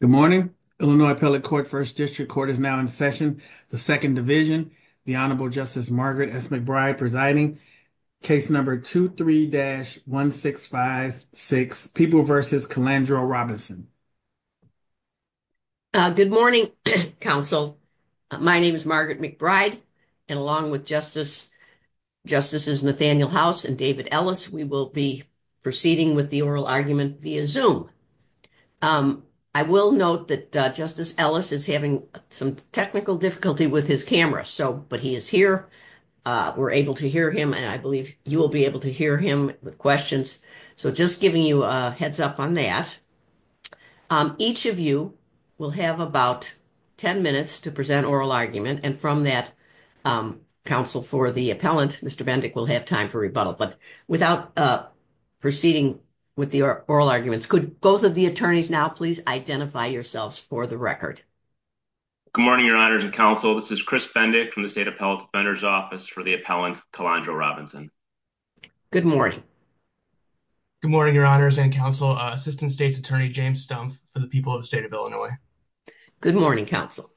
Good morning. Illinois appellate court first district court is now in session. The second division, the Honorable Justice Margaret S. McBride presiding, case number 23-1656, People v. Calandro Robinson. Good morning, counsel. My name is Margaret McBride, and along with justices Nathaniel House and David Ellis, we will be proceeding with the oral argument via Zoom. I will note that Justice Ellis is having some technical difficulty with his camera. So, but he is here. We're able to hear him and I believe you will be able to hear him with questions. So, just giving you a heads up on that. Each of you will have about 10 minutes to present oral argument and from that counsel for the appellant, Mr. Bendick will have time for rebuttal, but without proceeding with the oral arguments, could both of the attorneys now please identify yourselves for the record? Good morning, your honors and counsel. This is Chris Bendick from the state appellate defender's office for the appellant Calandro Robinson. Good morning. Good morning, your honors and counsel. Assistant State's Attorney James Stumpf for the people of the state of Illinois. Good morning, counsel.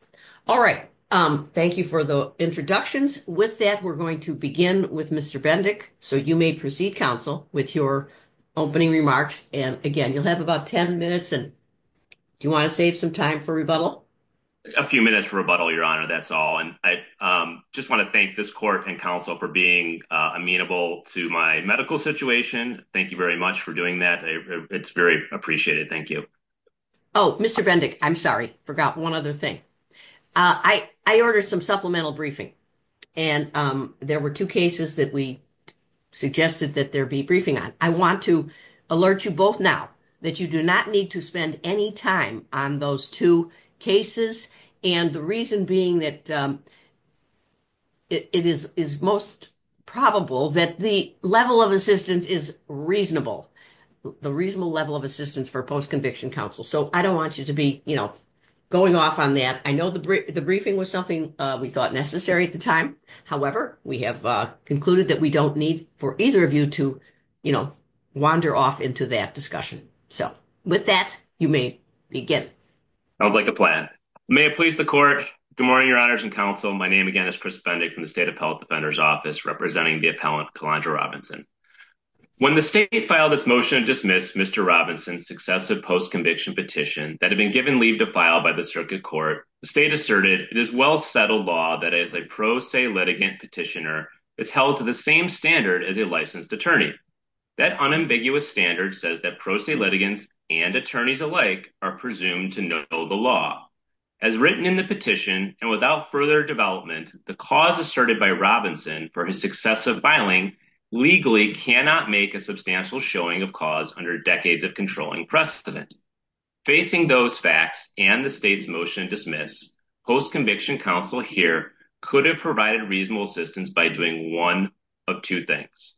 All right. Thank you for the introductions. With that, we're going to begin with Mr. Bendick. So, you may proceed, counsel, with your opening remarks. And again, you'll have about 10 minutes and do you want to save some time for rebuttal? A few minutes for rebuttal, your honor, that's all. And I just want to thank this court and counsel for being amenable to my medical situation. Thank you very much for doing that. It's very appreciated. Thank you. Oh, Mr. Bendick, I'm sorry. Forgot one other thing. I ordered some supplemental briefing. And there were two cases that we suggested that there be briefing on. I want to alert you both now that you do not need to spend any time on those two cases, and the reason being that it is most probable that the level of assistance is reasonable. The reasonable level of assistance for post-conviction counsel. So, I don't want you to be going off on that. I know the briefing was something we thought necessary at the time. However, we have concluded that we don't need for either of you to wander off into that discussion. So, with that, you may begin. Sounds like a plan. May it please the court. Good morning, your honors and counsel. My name, again, is Chris Bendick from the State Appellate Defender's Office, representing the appellant, Kalondra Robinson. When the state filed this motion to dismiss Mr. Robinson's successive post-conviction petition that had been given leave to file by the circuit court, the state asserted it is well-settled law that as a pro se litigant petitioner, it's held to the same standard as a licensed attorney. That unambiguous standard says that pro se litigants and attorneys alike are presumed to know the law. As written in the petition, and without further development, the cause asserted by Robinson for his successive filing legally cannot make a substantial showing of cause under decades of controlling precedent. Facing those facts and the state's motion to dismiss, post-conviction counsel here could have provided reasonable assistance by doing one of two things.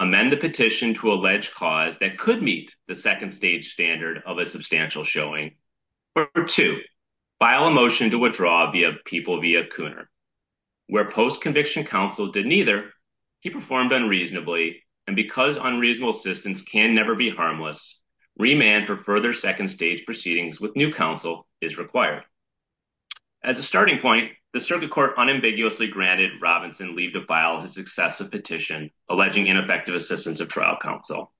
Amend the petition to allege cause that could meet the second-stage standard of a substantial showing, or two, file a motion to withdraw the people via Cooner. Where post-conviction counsel did neither, he performed unreasonably, and because unreasonable assistance can never be harmless, remand for further second-stage proceedings with new counsel is required. As a starting point, the circuit court unambiguously granted Robinson leave to file his successive petition alleging ineffective assistance of trial counsel.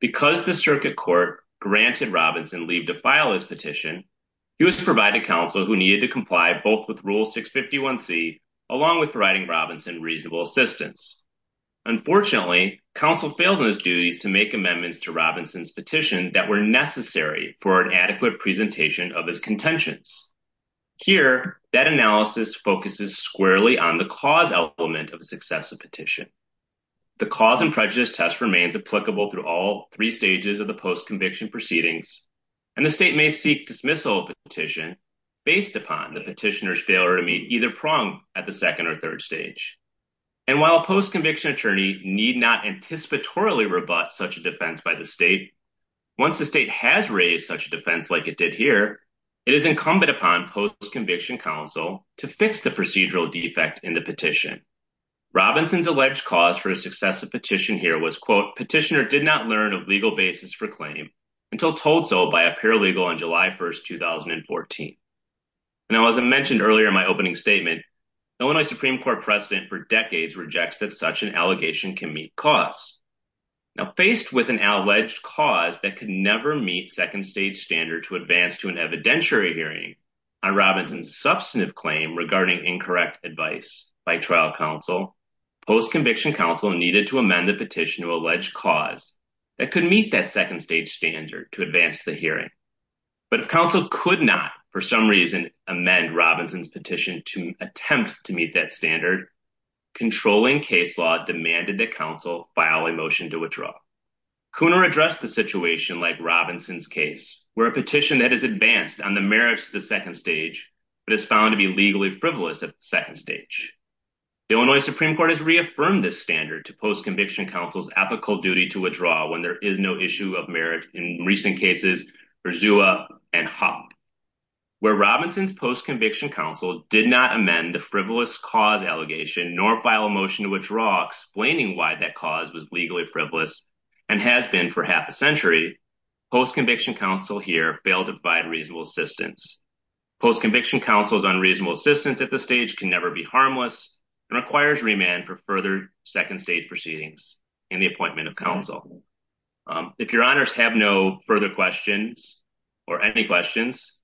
Because the circuit court granted Robinson leave to file his petition, he was to provide to counsel who needed to comply both with Rule 651C, along with providing Robinson reasonable assistance. Unfortunately, counsel failed those duties to make amendments to Robinson's petition that were necessary for an adequate presentation of his contentions. Here, that analysis focuses squarely on the cause element of successive petition. The cause and prejudice test remains applicable to all three stages of the post-conviction proceedings, and the state may seek dismissal of the petition based upon the petitioner's failure to meet either prong at the second or third stage. And while post-conviction attorneys need not anticipatorily rebut such a defense by the state, once the state has raised such a defense like it did here, it is incumbent upon post-conviction counsel to fix the procedural defect in the petition. Robinson's alleged cause for a successive petition here was, quote, petitioner did not learn of legal basis for claim until told so by a paralegal on July 1, 2014. Now, as I mentioned earlier in my opening statement, Illinois Supreme Court precedent for decades rejects that such an allegation can meet cause. Now, faced with an alleged cause that could never meet second-stage standards to advance to an evidentiary hearing on Robinson's substantive claim regarding incorrect advice by trial counsel, post-conviction counsel needed to amend the petition of alleged cause that could meet that second-stage standard to advance the hearing. But if counsel could not, for some reason, amend Robinson's petition to attempt to meet that standard, controlling case law demanded that counsel file a motion to withdraw. Cooner addressed the situation like Robinson's case, where a petition that is advanced on the merits of the second stage, but is found to be legally frivolous at the second stage. The Illinois Supreme Court has reaffirmed this standard to post-conviction counsel's ethical duty to withdraw when there is no issue of merit in recent cases for Zua and Hawk. Where Robinson's post-conviction counsel did not amend the frivolous cause allegation nor file a motion to withdraw explaining why that cause was legally frivolous and has been for half a century, post-conviction counsel here failed to provide reasonable assistance. Post-conviction counsel's unreasonable assistance at this stage can never be harmless and requires remand for further second-stage proceedings in the appointment of counsel. If your honors have no further questions or any questions,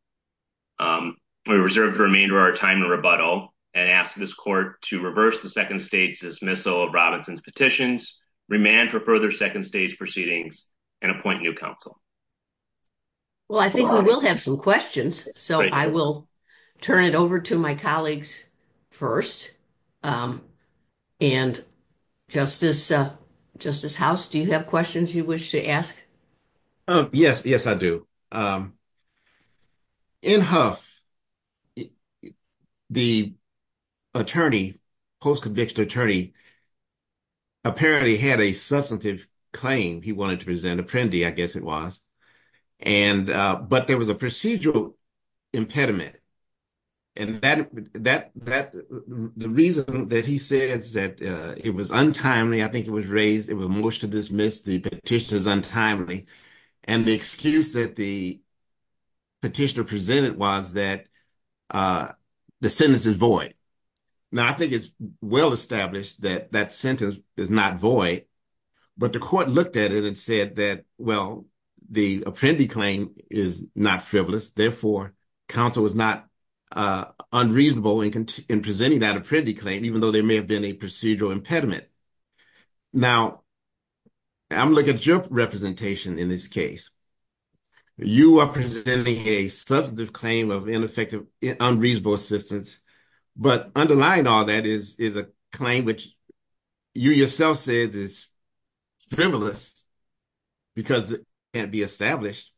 we reserve the remainder of our time to rebuttal and ask this court to reverse the second stage dismissal of Robinson's petitions, remand for further second-stage proceedings, and appoint new counsel. Well, I think we will have some questions, so I will turn it over to my colleagues first. And Justice Huff, do you have questions you wish to ask? Yes, yes, I do. In Huff, the attorney, post-conviction attorney, apparently had a substantive claim he wanted to present, appendi, I guess it was. And, but there was a procedural impediment. And that, the reason that he says that it was untimely, I think it was raised, it was a motion to dismiss the petition as untimely, and the excuse that the petitioner presented was that the sentence is void. Now, I think it's well established that that sentence is not void, but the court looked at it and said that, well, the appendi claim is not frivolous. Therefore, counsel is not unreasonable in presenting that appendi claim, even though there may have been a procedural impediment. Now, I'm looking at your representation in this case. You are presenting a substantive claim of ineffective, unreasonable assistance, but underlying all that is a claim which you yourself said is frivolous, because it can't be established.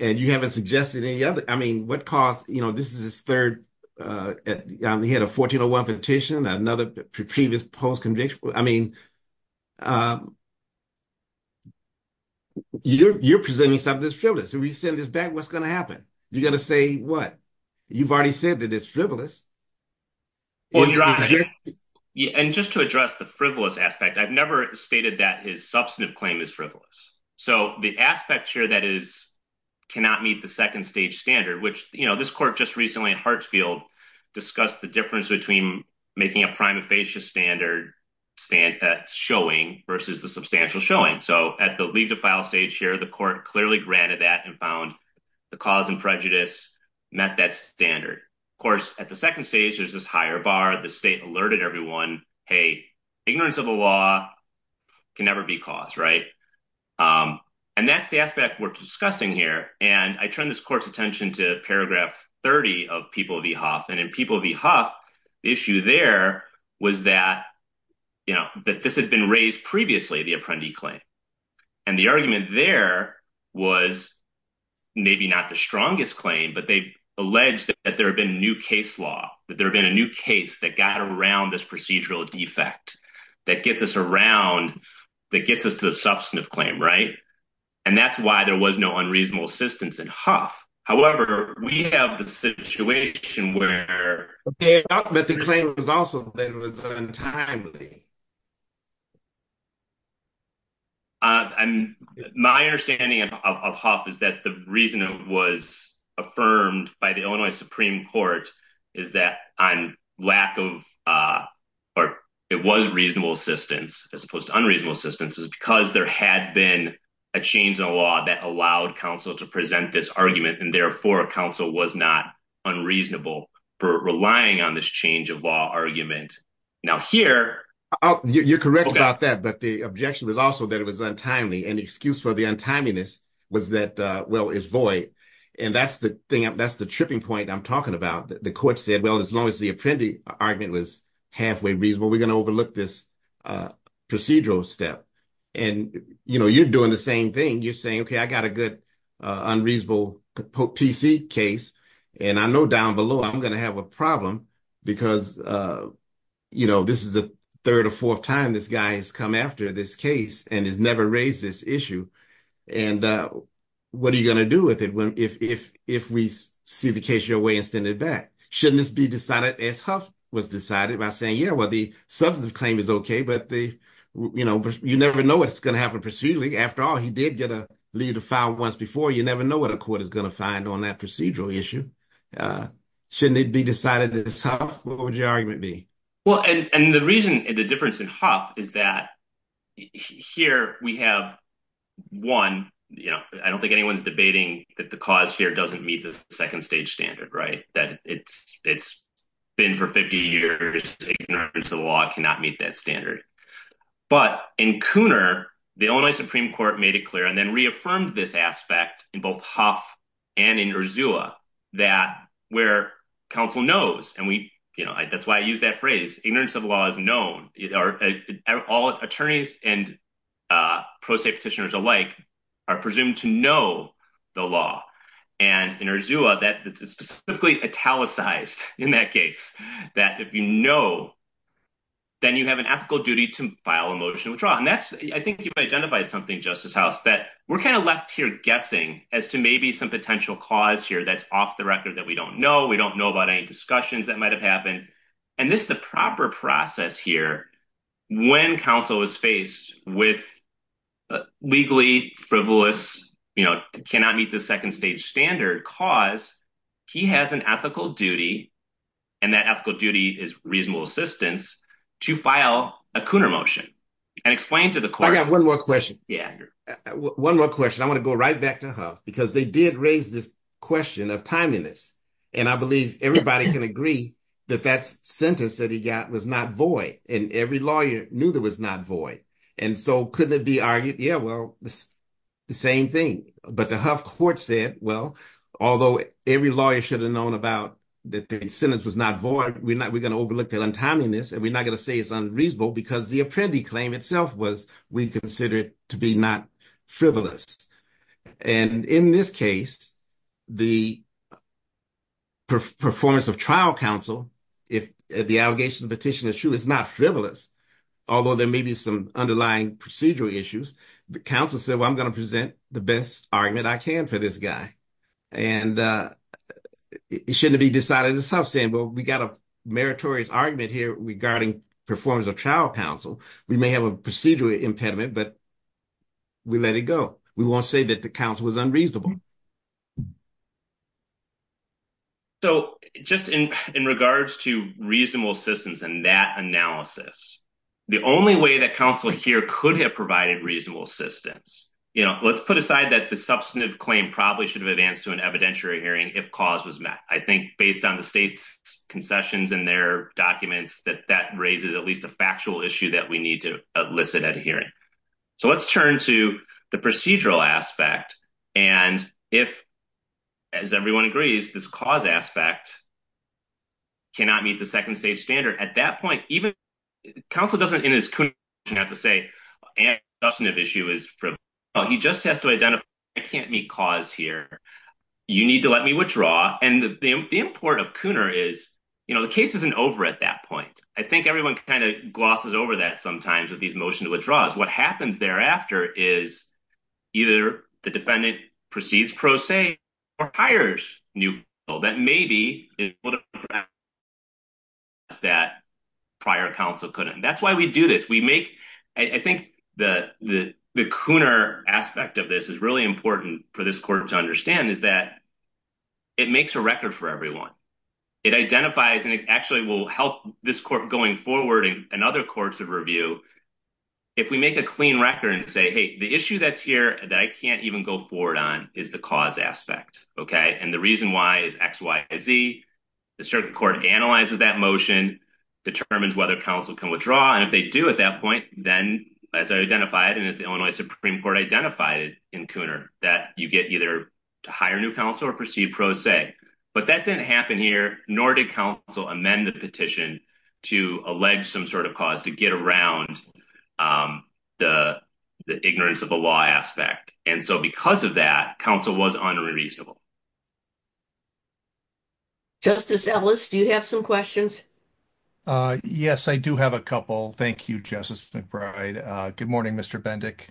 And you haven't suggested any other, I mean, what cost, you know, this is his third, he had a 1401 petition, another previous post-conviction. I mean, you're presenting something that's frivolous. If we send this back, what's going to happen? You got to say what? You've already said that it's frivolous. Yeah. And just to address the frivolous aspect, I've never stated that his substantive claim is frivolous. So the aspect here that is, cannot meet the second stage standard, which, you know, this court just recently in Hartsfield discussed the difference between making a prime facious standard that's showing versus the substantial showing. So at the leave the file stage here, the court clearly granted that and found the cause and prejudice met that standard. Of course, at the second stage, there's this higher bar, the state alerted everyone, hey, ignorance of the law can never be caused, right? And that's the aspect we're discussing here. And I turn this court's attention to paragraph 30 of People v. Huff. And in People v. Huff, the issue there was that, you know, that this has been raised previously, the apprendee claim. And the argument there was maybe not the strongest claim, but they've alleged that there have been new case law, that there have been a new case that got around this procedural defect that gets us around, that gets us to the substantive claim, right? And that's why there was no unreasonable assistance in Huff. However, we have the situation where- Okay, but the claim has also been returned timely. My understanding of Huff is that the reason it was affirmed by the Illinois Supreme Court is that on lack of, or it was reasonable assistance, as opposed to unreasonable assistance, is because there had been a change in law that allowed counsel to present this argument. And therefore, counsel was not unreasonable for relying on this change of law argument. Now here- You're correct about that, but the objection was also that it was untimely. And the excuse for the untimeliness was that, well, it's void. And that's the thing, that's the tripping point I'm talking about. The court said, well, as long as the apprendee argument was halfway reasonable, we're going to overlook this procedural step. And, you know, you're doing the same thing. You're saying, okay, I got a good unreasonable PC case, and I know down below I'm going to have a problem because, you know, this is the third or fourth time this guy has come after this case and has never raised this issue. And what are you going to do with it if we see the case your way and send it back? Shouldn't this be decided as Huff was decided by saying, yeah, well, the substance claim is okay, but, you know, you never know what's going to happen procedurally. After all, he did get a leave to file once before. You never know what a court is going to find on that procedural issue. Shouldn't it be decided as Huff? What would is that here we have one, you know, I don't think anyone's debating that the cause here doesn't meet the second stage standard, right? That it's been for 50 years, ignorance of the law cannot meet that standard. But in Cooner, the Illinois Supreme Court made it clear and then reaffirmed this aspect in both Huff and in Urzula that where counsel knows, and we, you know, that's why I was known, all attorneys and pro se petitioners alike are presumed to know the law. And in Urzula, that is specifically italicized in that case, that if you know, then you have an ethical duty to file a motion of withdrawal. And that's, I think you've identified something, Justice House, that we're kind of left here guessing as to maybe some potential cause here that's off the record that we don't know. We don't know about any discussions that might've happened. And this proper process here, when counsel is faced with legally frivolous, you know, cannot meet the second stage standard cause, he has an ethical duty and that ethical duty is reasonable assistance to file a Cooner motion and explain to the court. I got one more question. Yeah. One more question. I want to go right back to Huff because they did raise this question of time limits. And I believe everybody can agree that that sentence that he got was not void and every lawyer knew that was not void. And so couldn't it be argued? Yeah, well, the same thing, but the Huff court said, well, although every lawyer should have known about that the sentence was not void, we're not, we're going to overlook that untimeliness. And we're not going to say it's unreasonable because the appendi claim itself was, we consider it to be not frivolous. And in this case, the performance of trial counsel, if the allegation petition is true, it's not frivolous. Although there may be some underlying procedural issues, the counsel said, well, I'm going to present the best argument I can for this guy. And it shouldn't be decided itself saying, well, we got a meritorious argument here regarding performance of trial counsel. We may have a procedural impediment, but we let it go. We won't say that the counsel was unreasonable. So just in, in regards to reasonable systems and that analysis, the only way that counsel here could have provided reasonable assistance, you know, let's put aside that the substantive claim probably should have advanced to an evidentiary hearing if cause was met. I think based on the state's concessions and their documents that that raises at least a factual issue that we need to elicit at a hearing. So let's turn to the procedural aspect. And if, as everyone agrees, this cause aspect cannot meet the second stage standard, at that point, even counsel doesn't in his conclusion have to say, and the substantive issue is frivolous. He just has to identify, I can't meet cause here. You need to let me withdraw. And the import of Cooner is, you know, the case isn't over at that point. I think everyone kind of glosses over that sometimes with these motions to withdraws. What happens thereafter is either the defendant proceeds pro se or hires new counsel. That may be that prior counsel couldn't. That's why we do this. We make, I think the, the Cooner aspect of this is really important for this court to understand is that it makes a record for everyone. It identifies and it actually will help this court going forward and other courts of review. If we make a clean record and say, Hey, the issue that's here that I can't even go forward on is the cause aspect. Okay. And the reason why is X, Y, and Z. The circuit court analyzes that motion, determines whether counsel can withdraw. And if they do at that point, then as I identified, and it's the Illinois Supreme Court identified in Cooner that you get either to hire new counsel or proceed pro se. But that didn't happen here, nor did counsel amend the petition to allege some sort of cause to get around the ignorance of the law aspect. And so, because of that, counsel was unreasonable. Justice Ellis, do you have some questions? Yes, I do have a couple. Thank you, Justice McBride. Good morning, Mr. Bendick.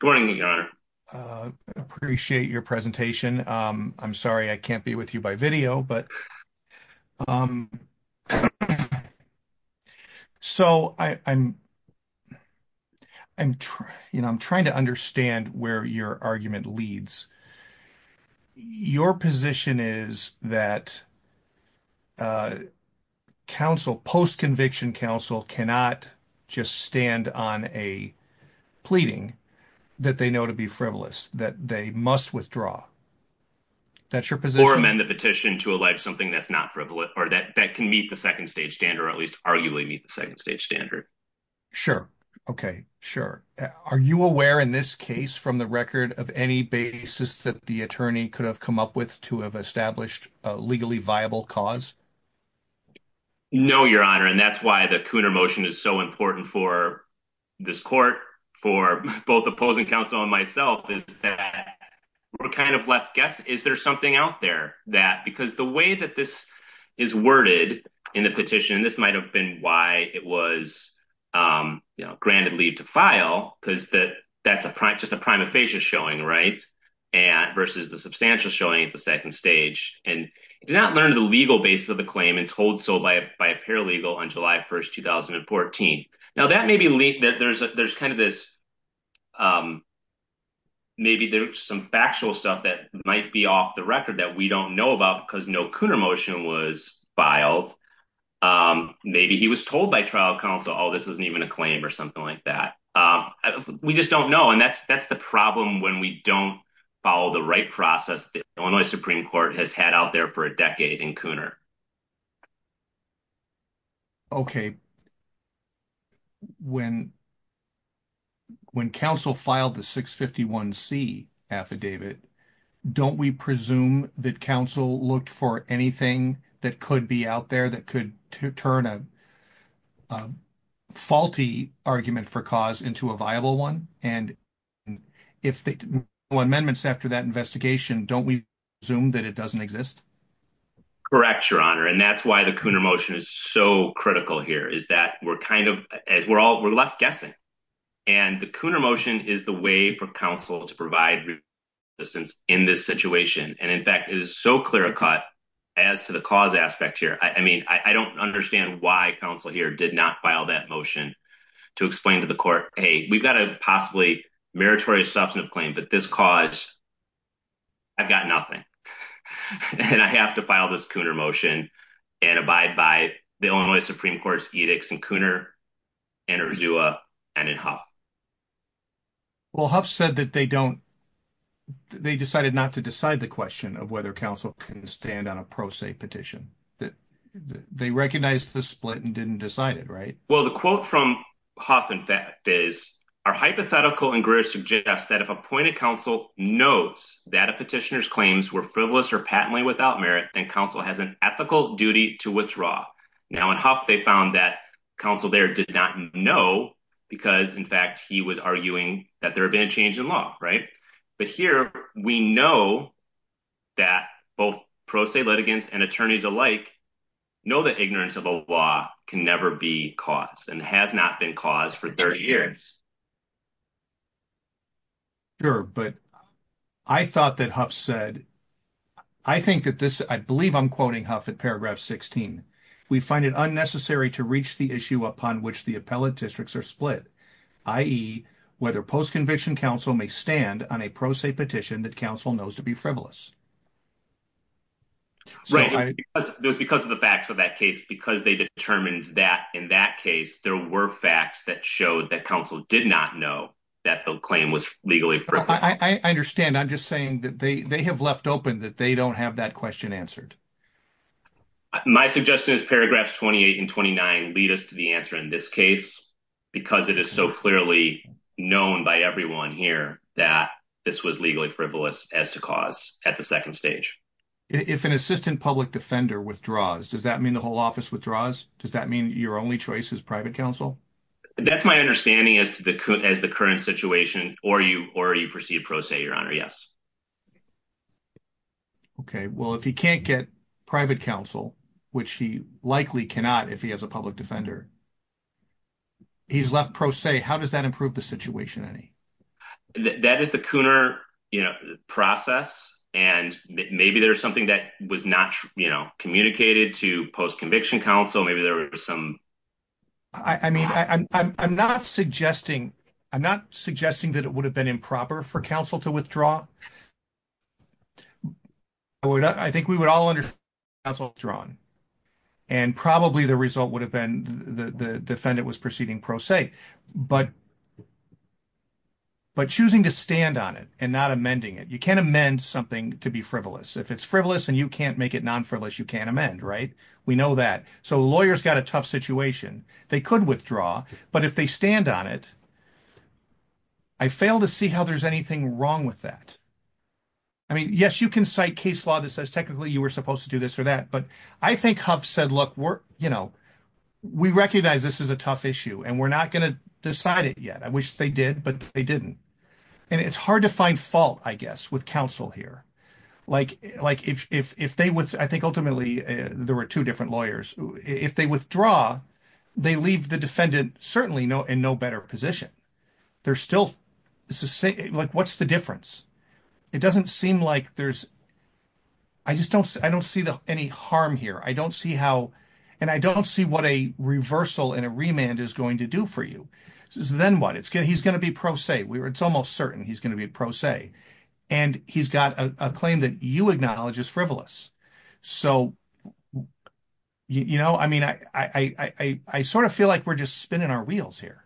Good morning, your honor. Appreciate your presentation. I'm sorry. I can't be with you by video, but I'm trying to understand where your argument leads. Your position is that post-conviction counsel cannot just stand on a pleading that they know to be frivolous, that they must withdraw. That's your position? Or amend the petition to allege something that's not frivolous, or that can meet the second stage standard, or at least arguably meet the second stage standard. Sure. Okay. Sure. Are you aware in this case from the record of any basis that the attorney could have come up with to have established a legally viable cause? No, your honor. And that's why the Cooner motion is so important for this court, for both opposing counsel and myself, is that we're kind of left guessing, is there something out there? Because the way that this is worded in the petition, this might have been why it was granted leave to file, because that's just a prima facie showing, right? Versus the substantial showing at the second stage. And it's not learned the legal base of the claim and told so by a paralegal on July 1st, 2014. Now that may be leaked. Maybe there's some factual stuff that might be off the record that we don't know about because no Cooner motion was filed. Maybe he was told by trial counsel, oh, this wasn't even a claim or something like that. We just don't know. And that's the problem when we don't follow the process that the Illinois Supreme Court has had out there for a decade in Cooner. Okay. When counsel filed the 651C affidavit, don't we presume that counsel looked for anything that could be out there that could turn a faulty argument for cause into a viable one? And if the amendments after that investigation, don't we assume that it doesn't exist? Correct, Your Honor. And that's why the Cooner motion is so critical here is that we're left guessing. And the Cooner motion is the way for counsel to provide assistance in this situation. And in fact, it is so clear cut as to the cause aspect here. I mean, I don't understand why counsel here did not file that motion to explain to the court, hey, we've got a possibly meritorious substantive claim, but this cause, I've got nothing. And I have to file this Cooner motion and abide by the Illinois Supreme Court's edicts in Cooner, in Urzula, and in Huff. Well, Huff said that they decided not to decide the question of whether counsel can stand on a split and didn't decide it, right? Well, the quote from Huff, in fact, is, our hypothetical and Grish suggest that if appointed counsel knows that a petitioner's claims were frivolous or patently without merit, then counsel has an ethical duty to withdraw. Now, in Huff, they found that counsel there did not know because, in fact, he was arguing that there had been a change in law, right? But here, we know that both pro se litigants and attorneys alike know that ignorance of a law can never be caused and has not been caused for 30 years. Sure, but I thought that Huff said, I think that this, I believe I'm quoting Huff at paragraph 16, we find it unnecessary to reach the issue upon which the appellate districts are split, i.e. whether post-conviction counsel may stand on a pro se petition that counsel knows to be frivolous. Right. Because of the facts of that case, because they determined that in that case, there were facts that showed that counsel did not know that the claim was legally frivolous. I understand. I'm just saying that they have left open that they don't have that question answered. My suggestion is paragraphs 28 and 29 lead us to the answer in this case, because it is so clearly known by everyone here that this was legally frivolous as to cause at the second stage. If an assistant public defender withdraws, does that mean the whole office withdraws? Does that mean your only choice is private counsel? That's my understanding as to the current situation or you proceed pro se, your honor. Yes. Okay. Well, if you can't get private counsel, which he likely cannot if he has a public defender, he's left pro se. How does that improve the situation? That is the Cooner process. And maybe there's something that was not communicated to post-conviction counsel. Maybe there was some... I mean, I'm not suggesting that it would have been improper for counsel to withdraw. I think we would all understand counsel withdrawing. And probably the result would have been the defendant was proceeding pro se. But choosing to stand on it and not amending it, you can't amend something to be frivolous. If it's frivolous and you can't make it non-frivolous, you can't amend, right? We know that. So lawyers got a tough situation. They could withdraw, but if they stand on it, I fail to see how there's anything wrong with that. I mean, yes, you can cite case law that says technically you were supposed to do this or that, but I think Hubbs said, look, we recognize this is a tough issue and we're not going to decide it yet. I wish they did, but they didn't. And it's hard to find fault, I guess, with counsel here. I think ultimately there were two different lawyers. If they withdraw, they leave the defendant certainly in no better position. What's the difference? It doesn't seem like there's... I just don't see any harm here. I don't see how... And I don't see what a reversal and a remand is going to do for you. Then what? He's going to be pro se. It's almost certain he's going to be pro se. And he's got a claim that you acknowledge is frivolous. So, you know, I mean, I sort of feel like we're just spinning our wheels here.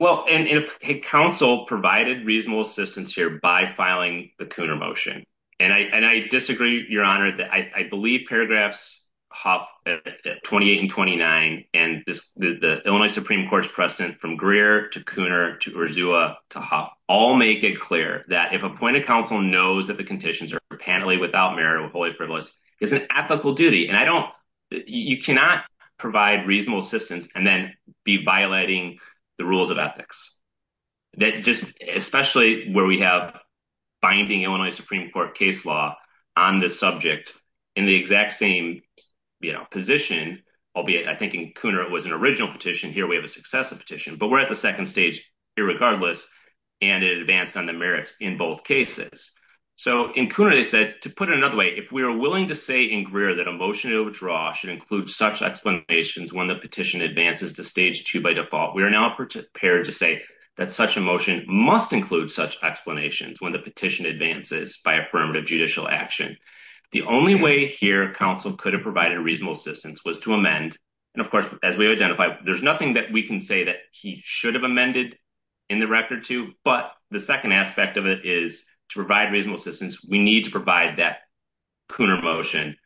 Well, and if counsel provided reasonable assistance here by filing the Cooner motion, and I disagree, Your Honor, that I believe paragraphs Hubbs, 28 and 29, and the Illinois Supreme Court's precedent from Greer to Cooner to Urzula to Hubbs all make it clear that if a point of counsel knows that the conditions are apparently without merit or wholly frivolous, it's an ethical duty. And I don't... You cannot provide reasonable assistance and then be violating the rules of ethics. That just... Especially where we have binding Illinois Supreme Court case law on this subject in the exact same, you know, position, albeit I think in Cooner it was an original petition. Here we have a successive petition, but we're at the second stage here regardless, and it advanced on the merits in both cases. So in Cooner they said, to put it another way, if we are willing to say in Greer that a motion should include such explanations when the petition advances to stage two by default, we are now prepared to say that such a motion must include such explanations when the petition advances by affirmative judicial action. The only way here counsel could have provided reasonable assistance was to amend, and of course, as we identified, there's nothing that we can say that he should have amended in the record to, but the second aspect of it is to provide reasonable assistance. We need to provide that Cooner motion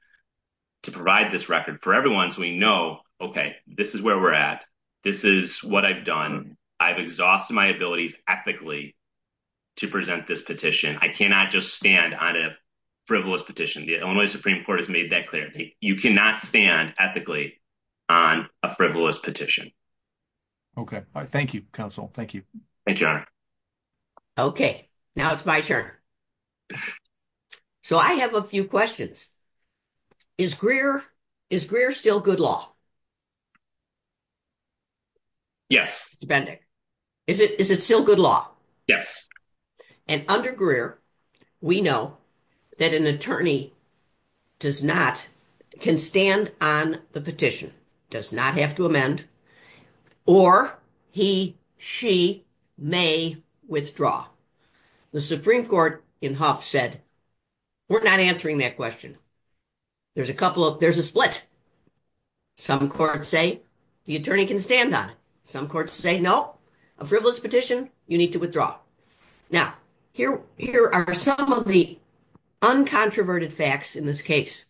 to provide this record for everyone so we know, okay, this is where we're at. This is what I've done. I've exhausted my ability ethically to present this petition. I cannot just stand on a frivolous petition. The Illinois Supreme Court has made that clear. You cannot stand ethically on a frivolous petition. Okay. Thank you, counsel. Thank you. Thank you, Your Honor. Okay. Now it's my turn. Okay. So I have a few questions. Is Greer still good law? Yes. Depending. Is it still good law? Yes. And under Greer, we know that an attorney can stand on the petition, does not have to amend, or he, she may withdraw. The Supreme Court in Huff said, we're not answering that question. There's a split. Some courts say the attorney can stand on it. Some courts say, no, a frivolous petition, you need to withdraw. Now, here are some of the uncontroverted facts in this case.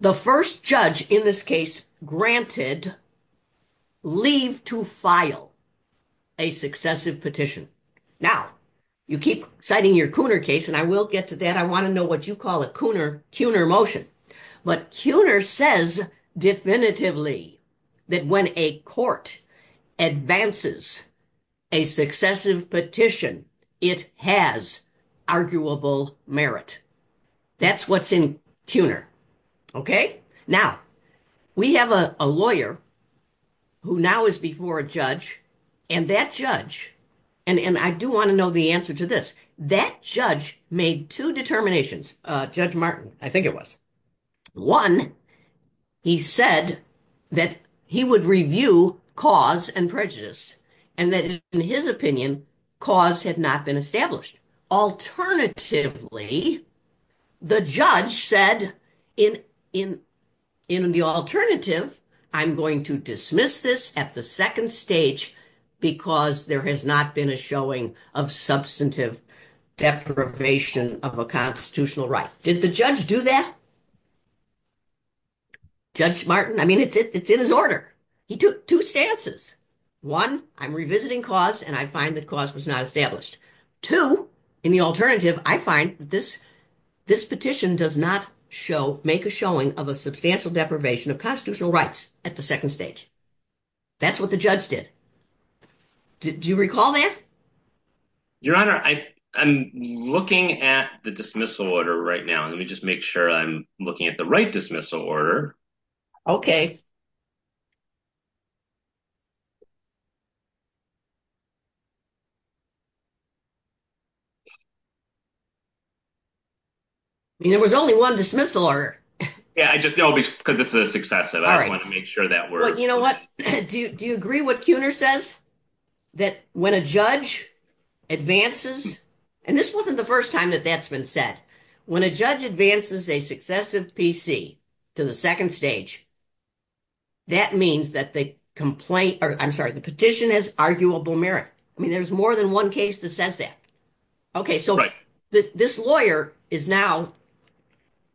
The first judge in this case granted leave to file a successive petition. Now, you keep citing your Cooner case, and I will get to that. I want to know what you call a Cooner motion. But Cooner says definitively that when a court advances a successive petition, it has arguable merit. That's what's in Cooner. Okay. Now, we have a lawyer who now is before a judge, and that judge, and I do want to know the answer to this, that judge made two determinations, Judge Martin, I think it was. One, he said that he would review cause and prejudice, and that in his opinion, cause had not been established. Alternatively, the judge said, in the alternative, I'm going to dismiss this at the second stage because there has not been a showing of substantive deprivation of a constitutional right. Did the judge do that? Judge Martin, I mean, it's in his order. He took two stances. One, I'm revisiting cause, and I find that cause was not established. Two, in the alternative, I find that this petition does not make a showing of a substantial deprivation of constitutional rights at the second stage. That's what the judge did. Do you recall that? Your Honor, I'm looking at the dismissal order right now. Let me just make sure I'm looking at the right dismissal order. Okay. There was only one dismissal order. Yeah, because this is a success, and I want to make sure that works. You know what? Do you agree what Cooner says? That when a judge advances, and this wasn't the first time that that's been said, when a judge advances a successive PC to the second stage, that means that the petition has arguable merit. I mean, there's more than one case that says that. Okay, so this lawyer is now,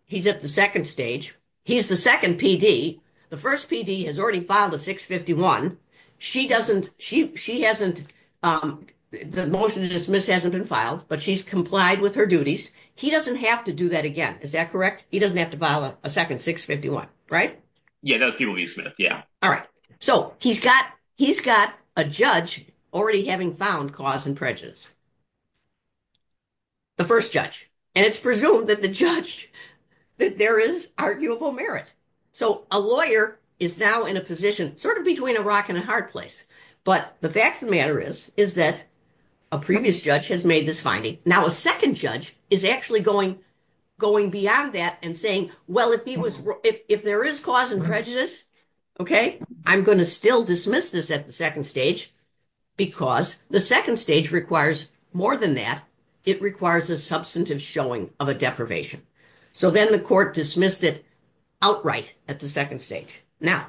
he's at the second stage. He's the second PD. The first PD has already filed a 651. She doesn't, she hasn't, the motion to dismiss hasn't been filed, but she's complied with her duties. He doesn't have to do that again. Is that correct? He doesn't have to file a second 651, right? Yeah. All right. So he's got a judge already having found cause and prejudice. The first judge, and it's presumed that the judge, that there is arguable merit. So a lawyer is now in a position sort of between a rock and a hard place. But the fact of the matter is, is that a previous judge has made this finding. Now a second judge is actually going beyond that and saying, well, if there is cause and prejudice, okay, I'm going to still dismiss this at the second stage because the second stage requires more than that. It requires a substantive showing of a deprivation. So then the court dismissed it outright at the second stage. Now,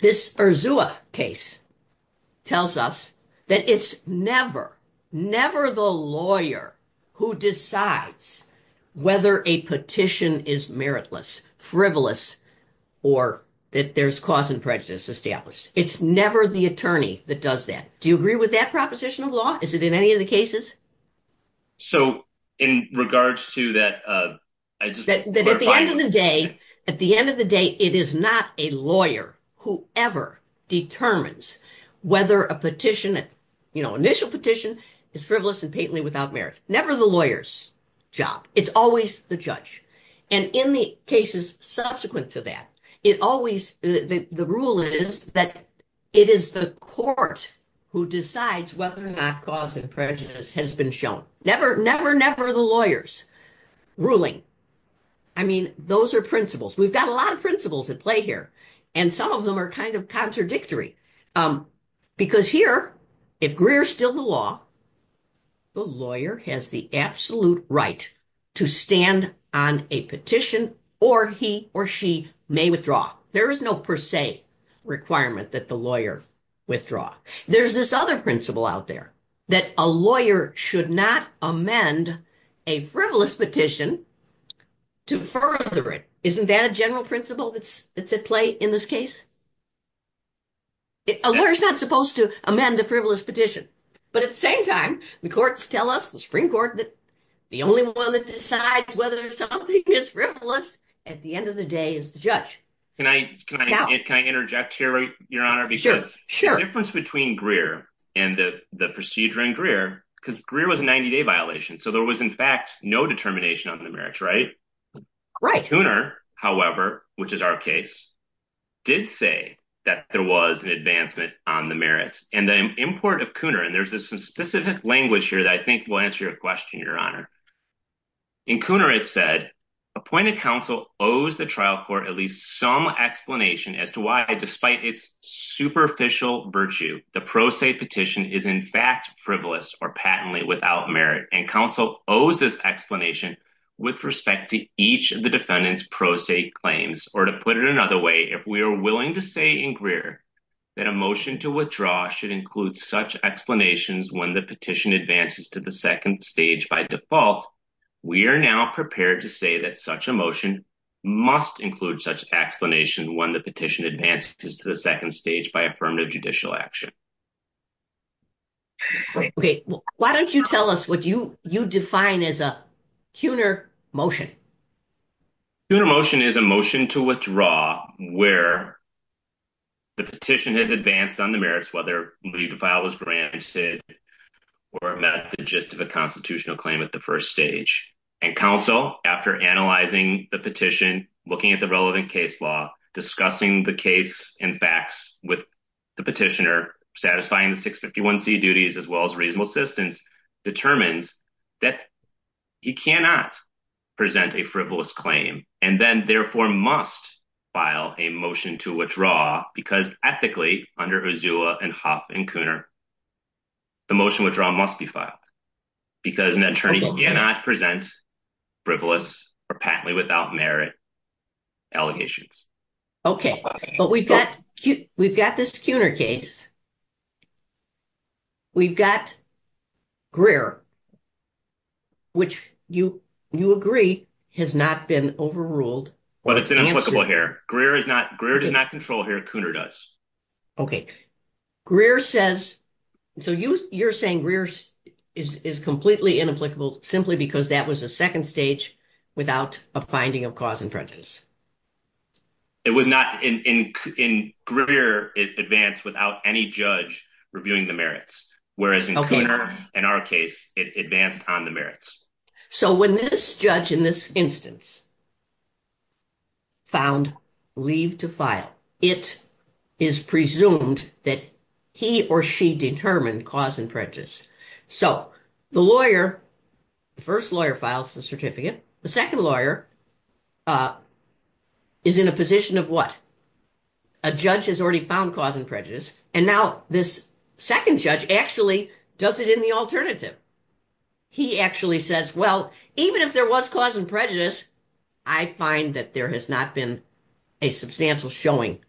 this Urzua case tells us that it's never, never the lawyer who decides whether a petition is meritless, frivolous, or that there's cause and prejudice established. It's never the attorney that does that. Do you agree with that proposition of law? Is it in any of the cases? So in regards to that, I just want to clarify that. That at the end of the day, at the end of the day, it is not a lawyer who ever determines whether a petition, you know, initial petition is frivolous and patently without merit. Never the lawyer's job. It's always the judge. And in the cases subsequent to that, it always, the rule is that it is the court who decides whether or not cause and prejudice has been shown. Never, never, never the lawyer's ruling. I mean, those are principles. We've got a lot of principles at play here. And some of them are kind of contradictory. Because here, if Greer's still the law, the lawyer has the absolute right to stand on a petition or he or she may withdraw. There is no per se requirement that the lawyer withdraw. There's this other principle out there that a lawyer should not amend a frivolous petition to further it. Isn't that a general principle that's at play in this case? A lawyer's not supposed to amend a frivolous petition. But at the same time, the courts tell us, the Supreme Court, that the only one that decides whether something is frivolous at the end of the day is the judge. Can I interject here, Your Honor? Sure, sure. The difference between Greer and the procedure in Greer, because Greer was a 90-day violation, so there was in fact no determination on the merits, right? Right. Kooner, however, which is our case, did say that there was an advancement on the merits. And the import of Kooner, and there's a specific language here that I think will answer your question, Your Honor. In Kooner, it said, appointed counsel owes the trial court at least some explanation as to why, despite its superficial virtue, the pro se petition is in fact frivolous or patently without merit. And counsel owes this explanation with respect to each of the defendant's pro se claims. Or to put it another way, if we are willing to say in Greer that a to withdraw should include such explanations when the petition advances to the second stage by default, we are now prepared to say that such a motion must include such explanation when the petition advances to the second stage by affirmative judicial action. Okay, why don't you tell us what you you define as a Kooner motion? Kooner motion is a motion to withdraw where the petition has advanced on the merits whether we file as granted or met the gist of a constitutional claim at the first stage. And counsel, after analyzing the petition, looking at the relevant case law, discussing the case and facts with the petitioner, satisfying the 651c duties as well as reasonable assistance, determines that he cannot present a frivolous claim and then therefore must file a to withdraw because ethically under Uzoa and Hoppe and Kooner, the motion withdrawal must be filed because an attorney cannot present frivolous or patently without merit allegations. Okay, but we've got we've got this Kooner case. We've got Greer, which you you agree has not been overruled. It's inapplicable here. Greer is not Greer does not control here. Kooner does. Okay, Greer says, so you you're saying Greer is is completely inapplicable simply because that was the second stage without a finding of cause and prejudice. It was not in in in Greer is advanced without any judge reviewing the merits, whereas in our case it advanced on the merits. So when this judge in this instance found leave to file, it is presumed that he or she determined cause and prejudice. So the lawyer, the first lawyer files the certificate. The second lawyer is in a position of what? A judge has already found cause and prejudice and now this second judge actually does it in the alternative. He actually says, well, even if there was cause and prejudice, I find that there has not been a substantial showing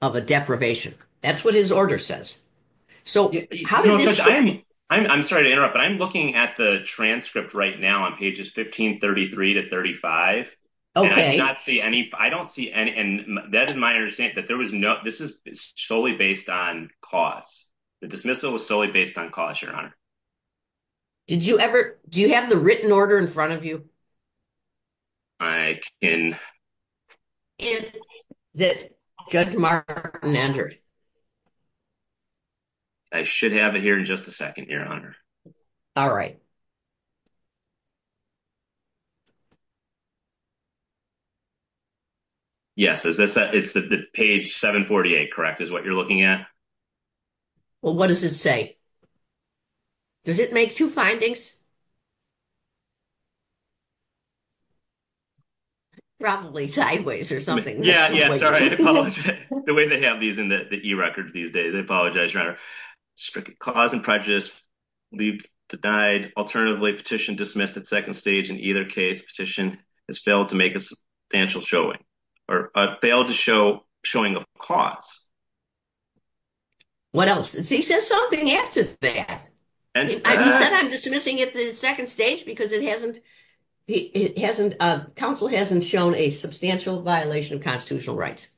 of a deprivation. That's what his order says. So how do you explain? I'm sorry to interrupt, but I'm looking at the transcript right now on pages 1533 to 35. Okay. I don't see any I don't see any and that is my but there was no this is solely based on cause. The dismissal was solely based on cause, Your Honor. Did you ever do you have the written order in front of you? I can. Is that Judge Martin Anderson? I should have it here in just a second, Your Honor. All right. Yes, it's the page 748, correct, is what you're looking at? Well, what does it say? Does it make two findings? Probably sideways or something. Yeah, yeah, sorry. The way they have these in the e-record they apologize, Your Honor. Cause and prejudice, leave denied. Alternatively, petition dismissed at second stage. In either case, petition has failed to make a substantial showing or failed to show showing of cause. What else? He says something else is there. He said I'm dismissing it at the second stage because it hasn't it hasn't council hasn't shown a substantial violation of constitutional rights.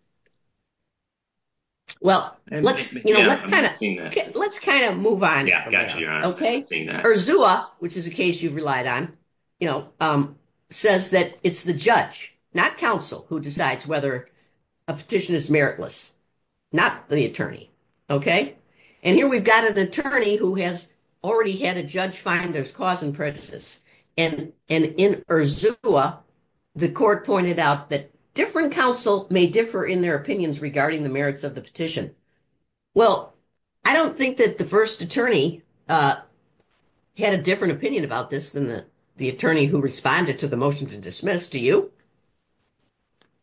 Well, let's kind of let's kind of move on. Yeah, okay. Urzua, which is a case you've relied on, you know, says that it's the judge, not council, who decides whether a petition is meritless, not the attorney. Okay. And here we've got an attorney who has already had a judge find there's cause and prejudice. And in Urzua, the court pointed out that different counsel may differ in their opinions regarding the merits of the petition. Well, I don't think that the first attorney had a different opinion about this than the attorney who responded to the motion to dismiss. Do you?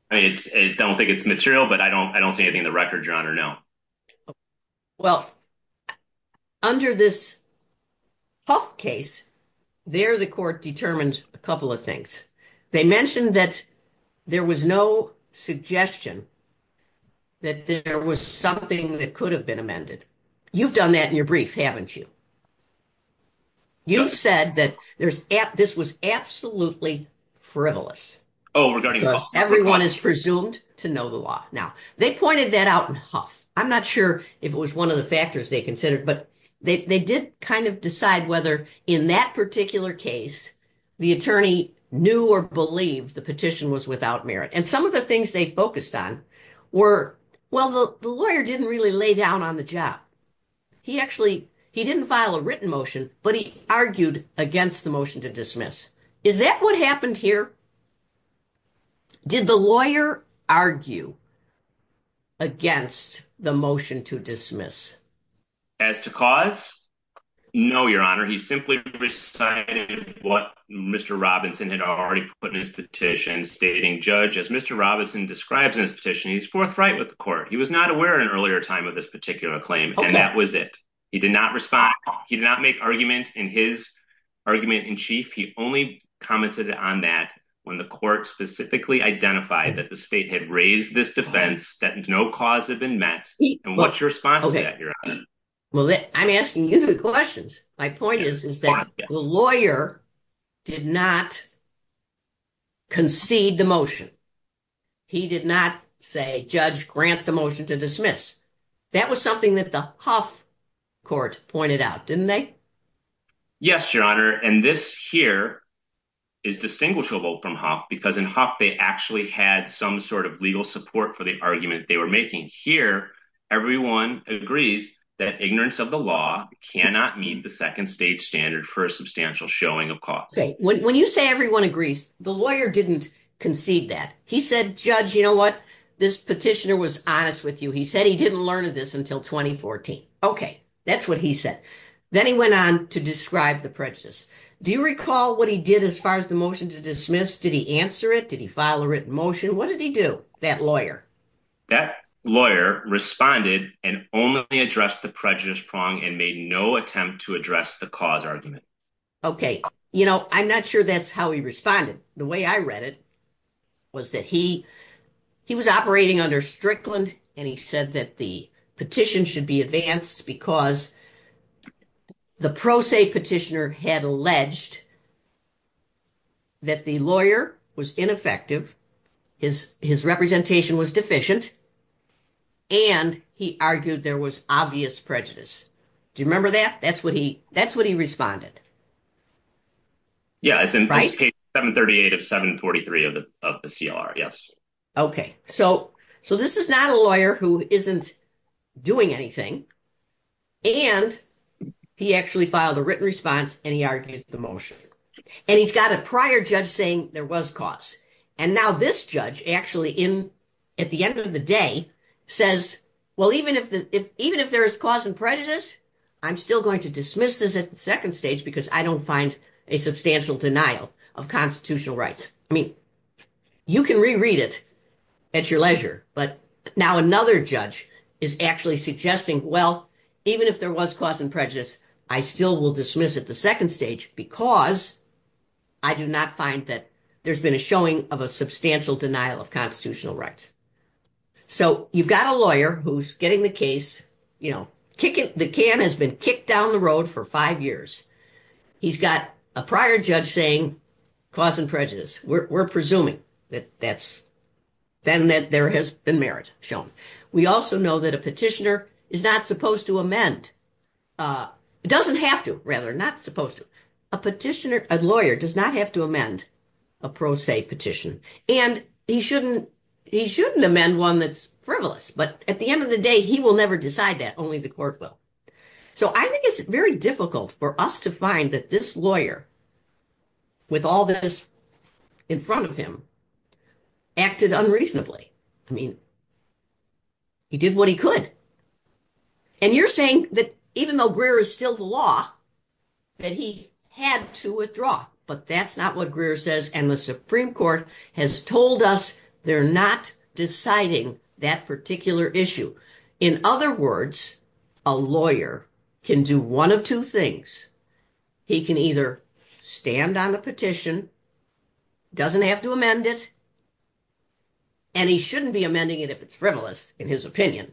I mean, I don't think it's material, but I don't I don't see anything in the record, Your Honor, no. Well, under this Huff case, there the court determines a couple of things. They mentioned that there was no suggestion that there was something that could have been amended. You've done that in your brief, haven't you? You said that this was absolutely frivolous. Oh, regarding Huff. Everyone is presumed to know the law. Now, they pointed that out in Huff. I'm not sure if it was one of the particular cases the attorney knew or believed the petition was without merit. And some of the things they focused on were, well, the lawyer didn't really lay down on the job. He actually, he didn't file a written motion, but he argued against the motion to dismiss. Is that what happened here? Did the lawyer argue against the motion to dismiss? As to cause? No, Your Honor. He simply recited what Mr. Robinson had already put in his petition, stating, Judge, as Mr. Robinson describes in his petition, he's forthright with the court. He was not aware at an earlier time of this particular claim, and that was it. He did not respond. He did not make arguments in his argument in chief. He only commented on that when the court specifically identified that the state had raised this defense, that no cause had been met. And what's your response to that, My point is that the lawyer did not concede the motion. He did not say, Judge, grant the motion to dismiss. That was something that the Huff court pointed out, didn't they? Yes, Your Honor. And this here is distinguishable from Huff, because in Huff, they actually had some sort of legal support for the argument they were making. Here, everyone agrees that ignorance of the law cannot meet the second stage standard for a substantial showing of cause. When you say everyone agrees, the lawyer didn't concede that. He said, Judge, you know what, this petitioner was honest with you. He said he didn't learn of this until 2014. Okay, that's what he said. Then he went on to describe the prejudice. Do you recall what he did as far as the motion to dismiss? Did he answer it? Did he file a written motion? What did he do, that lawyer? That lawyer responded and only addressed the prejudice prong and made no attempt to address the cause argument. Okay, you know, I'm not sure that's how he responded. The way I read it was that he was operating under Strickland, and he said that the petition should be advanced because the pro se petitioner had alleged that the lawyer was ineffective. His representation was deficient, and he argued there was obvious prejudice. Do you remember that? That's what he responded. Yeah, it's in case 738 of 743 of the CLR, yes. Okay, so this is not a lawyer who isn't doing anything, and he actually filed a written response, and he argued the motion. And he's got a prior judge saying there was cause, and now this judge actually, at the end of the day, says, well, even if there is cause and prejudice, I'm still going to dismiss this at the second stage because I don't find a substantial denial of constitutional rights. I mean, you can reread it at your leisure, but now another judge is actually suggesting, well, even if there was cause and prejudice, I still will dismiss at the second stage because I do not find that there's been a showing of a substantial denial of constitutional rights. So you've got a lawyer who's getting the case, you know, the can has been kicked down the road for five years. He's got a prior judge saying cause and prejudice. We're presuming that that's then that there has been merit shown. We also know that a petitioner is not supposed to amend, doesn't have to, rather, not supposed to. A petitioner, a lawyer does not have to amend a pro se petition, and he shouldn't, he shouldn't amend one that's frivolous, but at the end of the day, he will never decide that, only the court will. So I think it's very difficult for us to that this lawyer, with all that is in front of him, acted unreasonably. I mean, he did what he could. And you're saying that even though Greer is still the law, that he had to withdraw. But that's not what Greer says, and the Supreme Court has told us they're not deciding that particular issue. In other words, a lawyer can do one of two things. He can either stand on a petition, doesn't have to amend it, and he shouldn't be amending it if it's frivolous, in his opinion,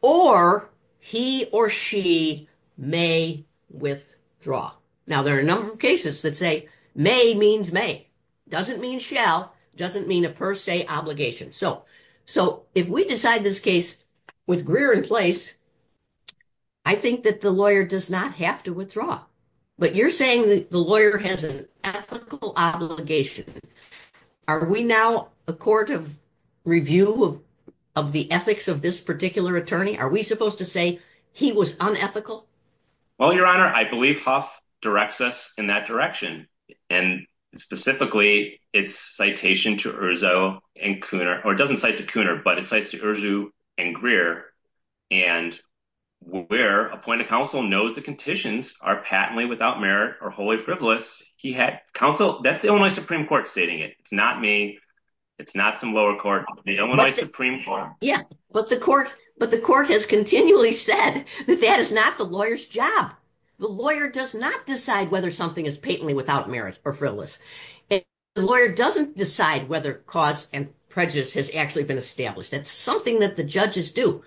or he or she may withdraw. Now, there are a number of cases that say may means may, doesn't mean shall, doesn't mean a per se obligation. So if we decide this with Greer in place, I think that the lawyer does not have to withdraw. But you're saying that the lawyer has an ethical obligation. Are we now a court of review of the ethics of this particular attorney? Are we supposed to say he was unethical? Well, Your Honor, I believe Huff directs us in that direction. And specifically, it's citation to Erzo and Cooner, or it doesn't cite to Cooner, but it cites to Erzo and Greer. And Greer, appointed counsel, knows the conditions are patently without merit or wholly frivolous. He had counsel, that's the Illinois Supreme Court stating it. It's not me, it's not some lower court, the Illinois Supreme Court. Yeah, but the court has continually said that that is not the lawyer's job. The lawyer does not decide whether something is patently without merit or frivolous. The lawyer doesn't decide whether cause and prejudice has actually been established. That's something that the judges do.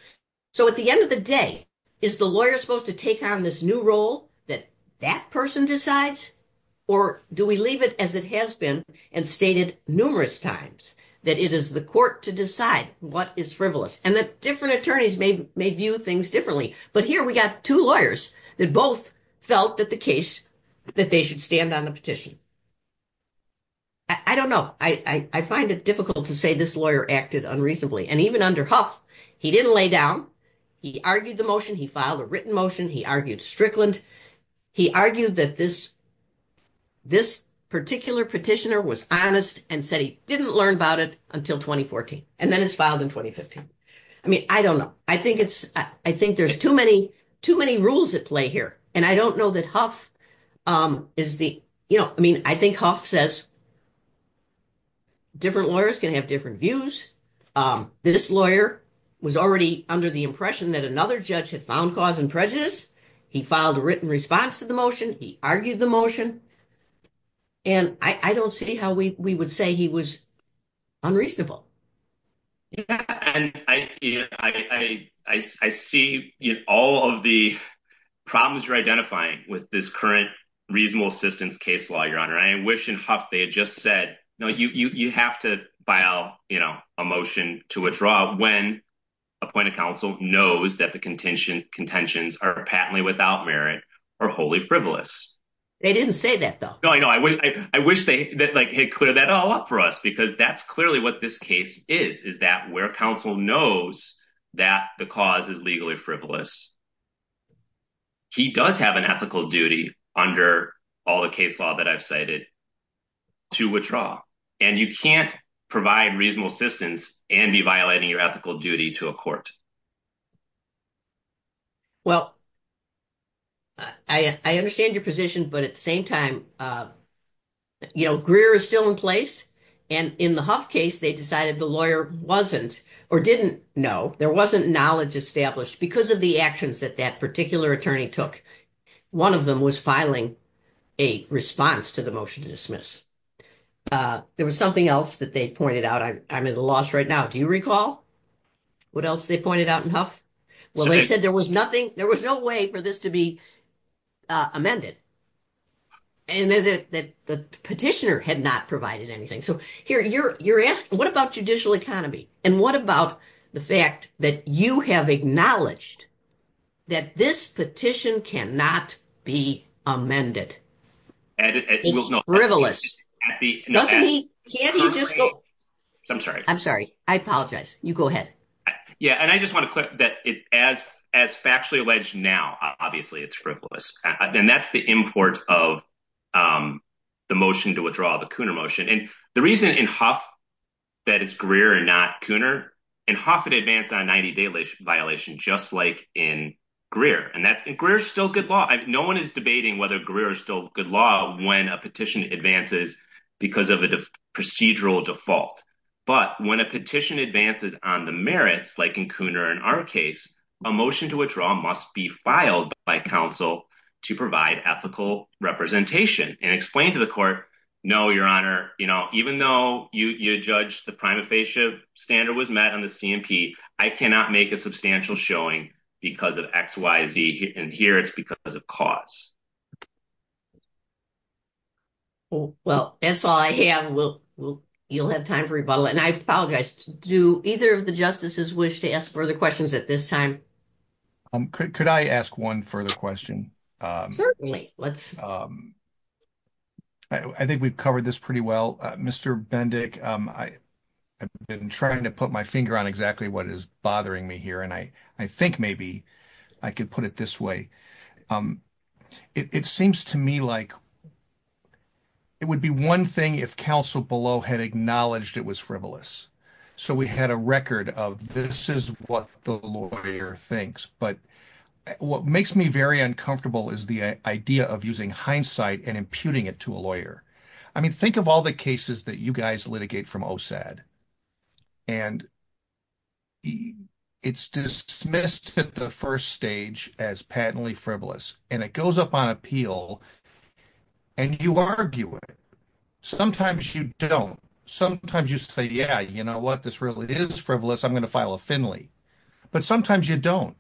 So at the end of the day, is the lawyer supposed to take on this new role that that person decides? Or do we leave it as it has been, and stated numerous times, that it is the court to decide what is frivolous. And that different attorneys may view things differently. But here we got two lawyers that both felt that the case, that they should stand on the petition. I don't know. I find it difficult to say this lawyer acted unreasonably. And even under Huff, he didn't lay down. He argued the motion, he filed a written motion, he argued Strickland. He argued that this particular petitioner was honest and said he didn't learn about it until 2014. And then it's filed in 2015. I mean, I don't know. I think there's too many rules at play here. And I don't know that Huff is the, you know, I mean, I think Huff says different lawyers can have different views. This lawyer was already under the impression that another judge had found cause and prejudice. He filed a written response to the motion, he argued the motion. And I don't see how we would say he was unreasonable. Yeah. And I see all of the problems you're identifying with this current reasonable assistance case law, Your Honor. I wish in Huff they just said, no, you have to file, you know, a motion to withdraw when appointed counsel knows that the contentions are patently without merit or wholly frivolous. They didn't say that, though. No, I know. I wish they had cleared that all up for us because that's clearly what this case is, is that where counsel knows that the cause is legally frivolous, he does have an ethical duty under all the case law that I've cited to withdraw. And you can't provide reasonable assistance and be violating your ethical duty to a court. Well, I understand your position, but at the same time, you know, Greer is still in place. And in the Huff case, they decided the lawyer wasn't or didn't know, there wasn't knowledge established because of the actions that that particular attorney took. One of them was filing a response to the motion to dismiss. There was something else that they pointed out. I'm at a loss right now. Do you recall what else they pointed out in Huff? Well, they said there was no way for this to be amended. And that the petitioner had not provided anything. So, here, you're asked, what about judicial economy? And what about the fact that you have acknowledged that this petition cannot be amended? It's frivolous. I'm sorry. I'm sorry. I apologize. You go ahead. Yeah. And I just want to say that as factually alleged now, obviously, it's frivolous. And that's the import of the motion to withdraw, the Cooner motion. And the reason in Huff that it's Greer and not Cooner, in Huff, it advanced on a 90-day violation, just like in Greer. And Greer is still good law. No one is debating whether Greer is still good law when a petition advances because of a procedural default. But when a petition advances on the merits, like in Cooner and our case, a motion to withdraw must be filed by counsel to provide ethical representation and explain to the court, no, your honor, you know, even though you judge the prima facie standard was met on the C&P, I cannot make a substantial showing because of XYZ. And Greer is because of cost. Well, that's all I have. You'll have time for rebuttal. And I apologize. Do either of the justices wish to ask further questions at this time? Could I ask one further question? Certainly. I think we've covered this pretty well. Mr. Bendick, I've been trying to put my finger on what is bothering me here, and I think maybe I can put it this way. It seems to me like it would be one thing if counsel below had acknowledged it was frivolous. So we had a record of this is what the lawyer thinks. But what makes me very uncomfortable is the idea of using hindsight and imputing it to a lawyer. I mean, think of all the cases that guys litigate from OSAD. And it's dismissed at the first stage as patently frivolous, and it goes up on appeal, and you argue it. Sometimes you don't. Sometimes you say, yeah, you know what, this really is frivolous. I'm going to file a Finley. But sometimes you don't.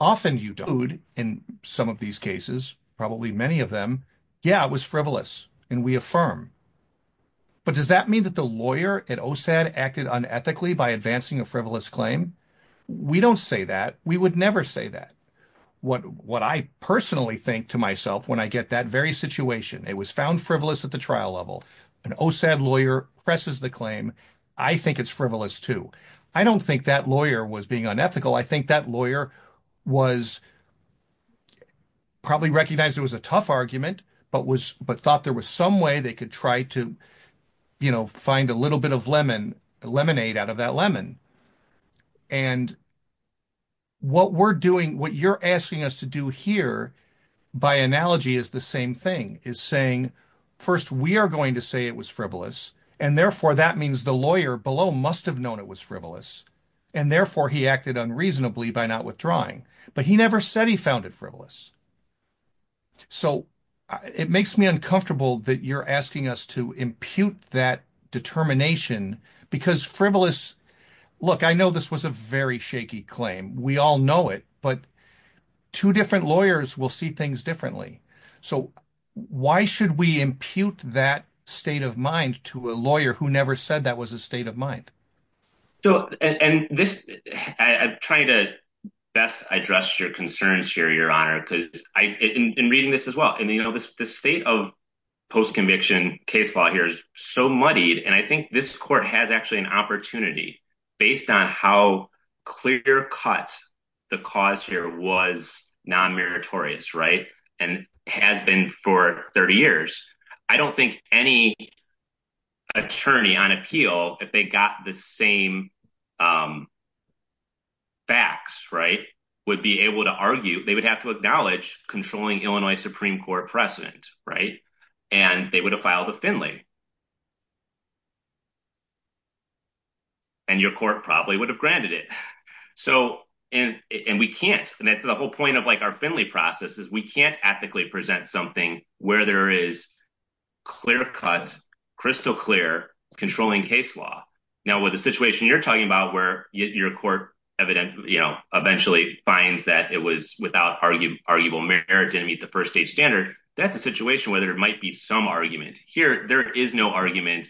Often you don't. In some of these cases, probably many of them, yeah, it was frivolous, and we affirm. But does that mean that the lawyer at OSAD acted unethically by advancing a frivolous claim? We don't say that. We would never say that. What I personally think to myself when I get that very situation, it was found frivolous at the trial level. An OSAD lawyer presses the claim. I think it's frivolous, too. I don't think that lawyer was being unethical. I could try to find a little bit of lemonade out of that lemon. And what we're doing, what you're asking us to do here by analogy is the same thing, is saying first we are going to say it was frivolous, and therefore that means the lawyer below must have known it was frivolous, and therefore he acted unreasonably by not withdrawing. But he never said he found it frivolous. So it makes me uncomfortable that you're asking us to impute that determination because frivolous, look, I know this was a very shaky claim. We all know it. But two different lawyers will see things differently. So why should we impute that state of mind to a lawyer who never said that was a state of mind? I'm trying to best address your concerns here, Your Honor, in reading this as well. The state of post-conviction case law here is so muddied, and I think this court has actually an opportunity based on how clear-cut the cause here was non-meritorious and has been for 30 years. I don't think any attorney on appeal, if they got the same facts, right, would be able to argue, they would have to acknowledge controlling Illinois Supreme Court precedent, right? And they would have filed a Finley. And your court probably would have granted it. So, and we can't, and that's the whole point of like our Finley process is we can't ethically present something where there is clear-cut, crystal clear, controlling case law. Now, with the situation you're talking about where your court evident, you know, eventually finds that it was without arguable merit to meet the first-stage standard, that's a situation where there might be some argument. Here, there is no argument.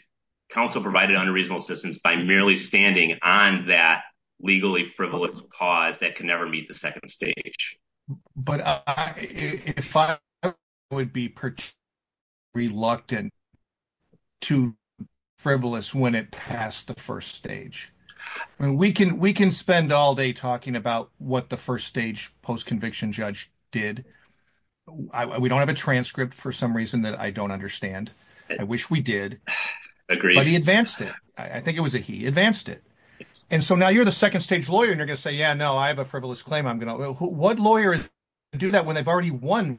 Counsel provided unreasonable assistance by merely standing on that legally frivolous cause that can never meet the second stage. But I, if I would be particularly reluctant to frivolous when it passed the first stage. And we can, we can spend all day talking about what the first-stage post-conviction judge did. We don't have a transcript for some reason that I don't understand. I wish we did, but he advanced it. I think it was he advanced it. And so now you're the second-stage lawyer and you're going to say, yeah, no, I have a frivolous claim. I'm going to, what lawyers do that when they've already won?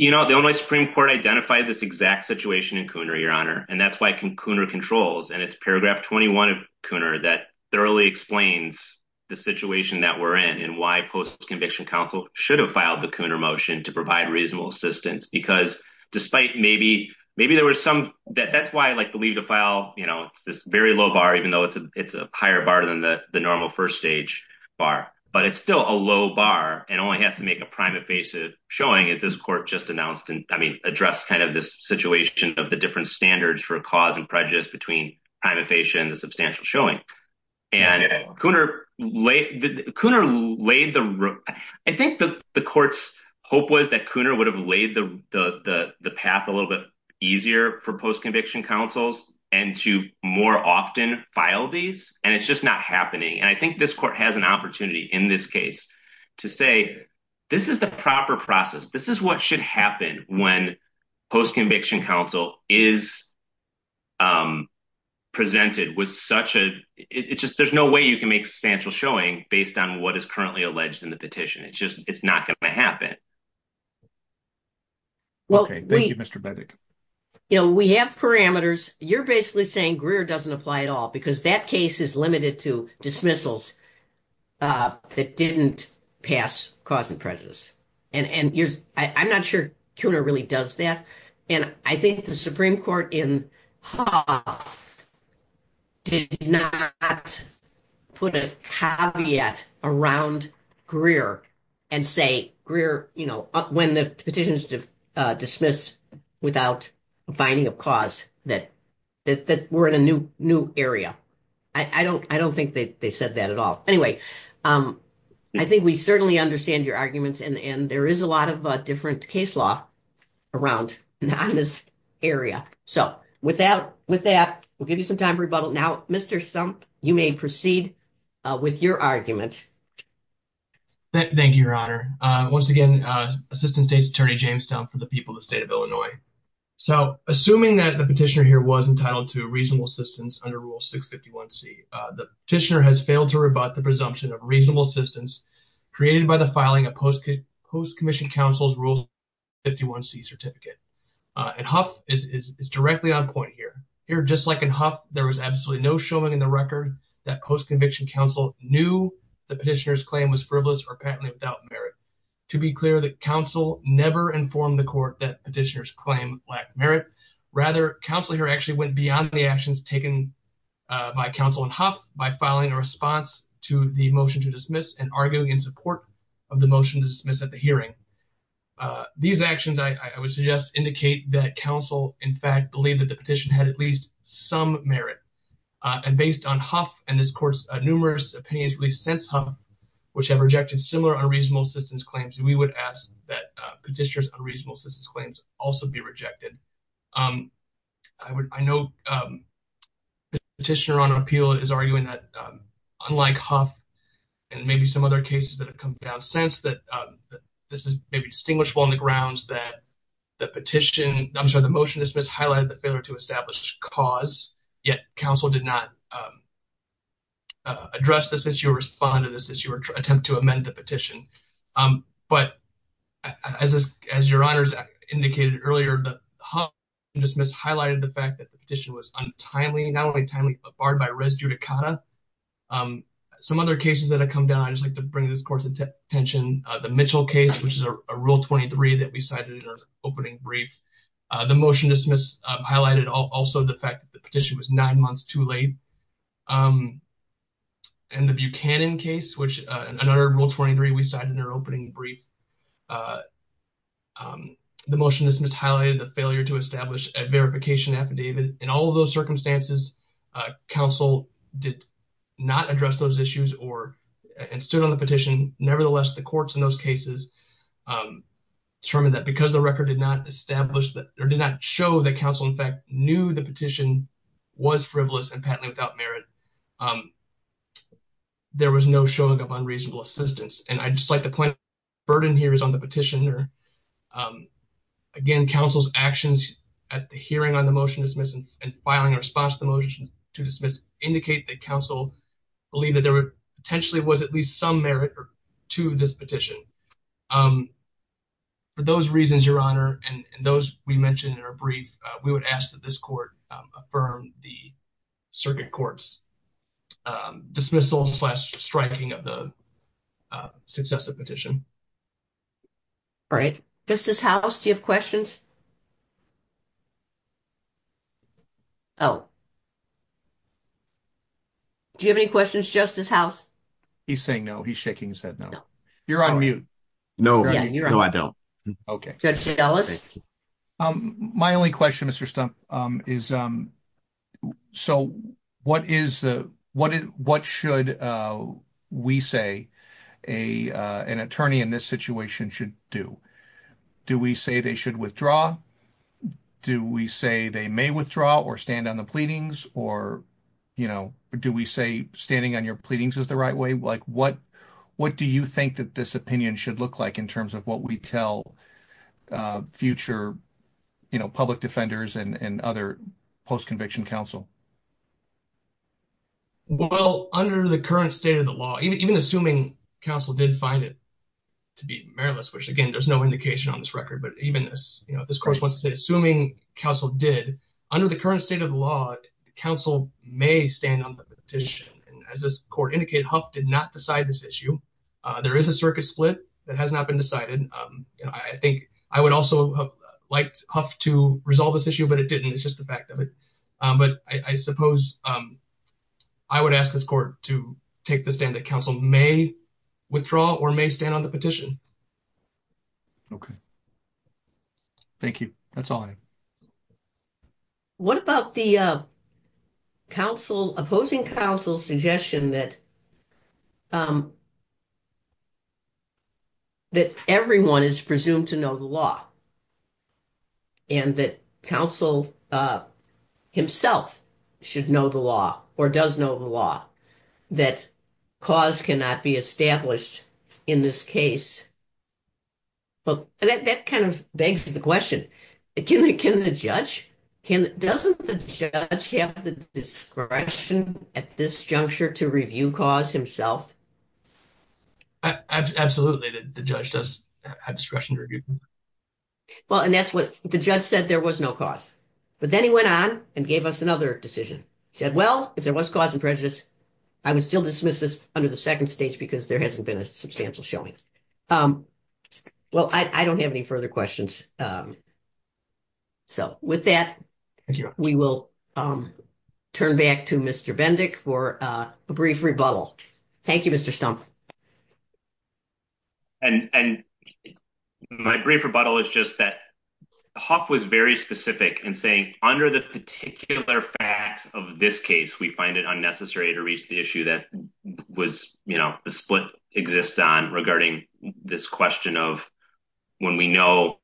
You know, the Illinois Supreme Court identified this exact situation in Cooner, Your Honor. And that's why Cooner controls. And it's paragraph 21 of Cooner that thoroughly explains the situation that we're in and why post-conviction counsel should have filed the Cooner motion to provide reasonable assistance. Because despite maybe, maybe there were some that that's why I like the legal file, you know, this very low bar, even though it's a, it's a higher bar than the normal first-stage bar, but it's still a low bar and only have to make a private basis showing it. This court just addressed kind of this situation of the different standards for a cause and prejudice between amnesia and substantial showing. And Cooner laid the, I think the court's hope was that Cooner would have laid the path a little bit easier for post-conviction counsels and to more often file these. And it's just not happening. And I think this court has an opportunity in this case to say, this is the proper process. This is what should happen when post-conviction counsel is presented with such a, it's just, there's no way you can make substantial showing based on what is currently alleged in the petition. It's just, it's not going to happen. Well, thank you, Mr. Bennett. You know, we have parameters. You're basically saying Greer doesn't apply at all because that case is limited to dismissals that didn't pass cause and prejudice. And I'm not sure Cooner really does that. And I think the Supreme Court in Hall did not put a caveat around Greer and say Greer, you know, when the petition is dismissed without finding a cause that we're in a new area. I don't think that they said that at all. Anyway, I think we certainly understand your arguments and there is a lot of different case law around this area. So with that, we'll give you some time for rebuttal. Now, Mr. Stump, you may proceed with your argument. Thank you, Your Honor. Once again, Assistant State's Attorney James Stump for the people state of Illinois. So assuming that the petitioner here was entitled to reasonable assistance under Rule 651C, the petitioner has failed to rebut the presumption of reasonable assistance created by the filing of post-commissioned counsel's Rule 651C certificate. And Huff is directly on point here. Here, just like in Huff, there was absolutely no showing in the record that post-conviction counsel knew the petitioner's claim was frivolous or without merit. To be clear, the counsel never informed the court that petitioners claim lacked merit. Rather, counsel here actually went beyond the actions taken by counsel in Huff by filing a response to the motion to dismiss and arguing in support of the motion to dismiss at the hearing. These actions, I would suggest, indicate that counsel, in fact, believed that the petition had at least some merit. And based on Huff and this court's numerous opinions since Huff, which have rejected similar unreasonable assistance claims, we would ask that petitioner's unreasonable assistance claims also be rejected. I know the petitioner on appeal is arguing that, unlike Huff and maybe some other cases that have come down since, that this is distinguishable on the grounds that the petition, I'm sorry, the motion to dismiss highlighted the failure to cause, yet counsel did not address this issue or respond to this issue or attempt to amend the petition. But as your honors indicated earlier, the Huff and dismiss highlighted the fact that the petition was untimely, not only timely, but barred by res judicata. Some other cases that have come down, I just like to bring this court's attention, the Mitchell case, which is a Rule 23 that we cited in our opening brief. The motion to dismiss highlighted also the fact that the petition was nine months too late. And the Buchanan case, which another Rule 23 we cited in our opening brief. The motion to dismiss highlighted the failure to establish a verification affidavit. In all of those circumstances, counsel did not address those issues and stood on the motion to dismiss. The Huff and dismiss highlighted the fact that the petition was frivolous and patently without merit. In all of those cases, because the record did not establish or did not show that counsel in fact knew the petition was frivolous and patently without merit, there was no showing of unreasonable assistance. And I just like to point out the burden here is on the petitioner. Again, counsel's actions at the hearing on the motion to dismiss and filing response to the motion to dismiss indicate that counsel believed that there potentially was at least some merit to this petition. For those reasons, Your Honor, and those we mentioned in our brief, we would ask that this court affirm the circuit court's dismissal plus striking of the successive petition. All right. Mrs. House, do you have questions? Oh. Do you have any questions, Justice House? He's saying no. He's shaking his head no. You're on mute. No, I don't. Okay. My only question, Mr. Stumpf, is so what should we say an attorney in this situation should do? Do we say they should withdraw? Do we say they may withdraw or stand on the pleadings? Or, you know, do we say standing on your pleadings is the right way? Like, what do you think that this opinion should look like in terms of what we tell future, you know, public defenders and other post-conviction counsel? Well, under the current state of the law, even assuming counsel did find it to be meritless, which, again, there's no indication on this record, but even this, you know, this court wants to say, assuming counsel did, under the current state of the law, counsel may stand on the petition. And as this court indicated, Huff did not decide this issue. There is a circuit split that has not been decided. You know, I think I would also have liked Huff to resolve this issue, but it didn't. It's just the fact of it. But I suppose I would ask this court to take the stand that counsel may withdraw or may stand on the petition. Okay. Thank you. That's all I have. What about the opposing counsel's suggestion that that everyone is presumed to know the law and that counsel himself should know the law or does know the law, that cause cannot be established in this case? Well, that kind of begs the question, can the judge, doesn't the judge have the discretion at this juncture to review cause himself? Absolutely, the judge does have discretion to review. Well, and that's what, the judge said there was no cause. But then he went on and gave us another decision. He said, well, if there was cause and prejudice, I would still dismiss this under the second stage because there hasn't been a substantial showing. Well, I don't have any questions. So with that, we will turn back to Mr. Bendick for a brief rebuttal. Thank you, Mr. Stumpf. And my brief rebuttal is just that Huff was very specific in saying under the particular facts of this case, we find it unnecessary to reach the issue that was, you know, the split exists on regarding this question of when we know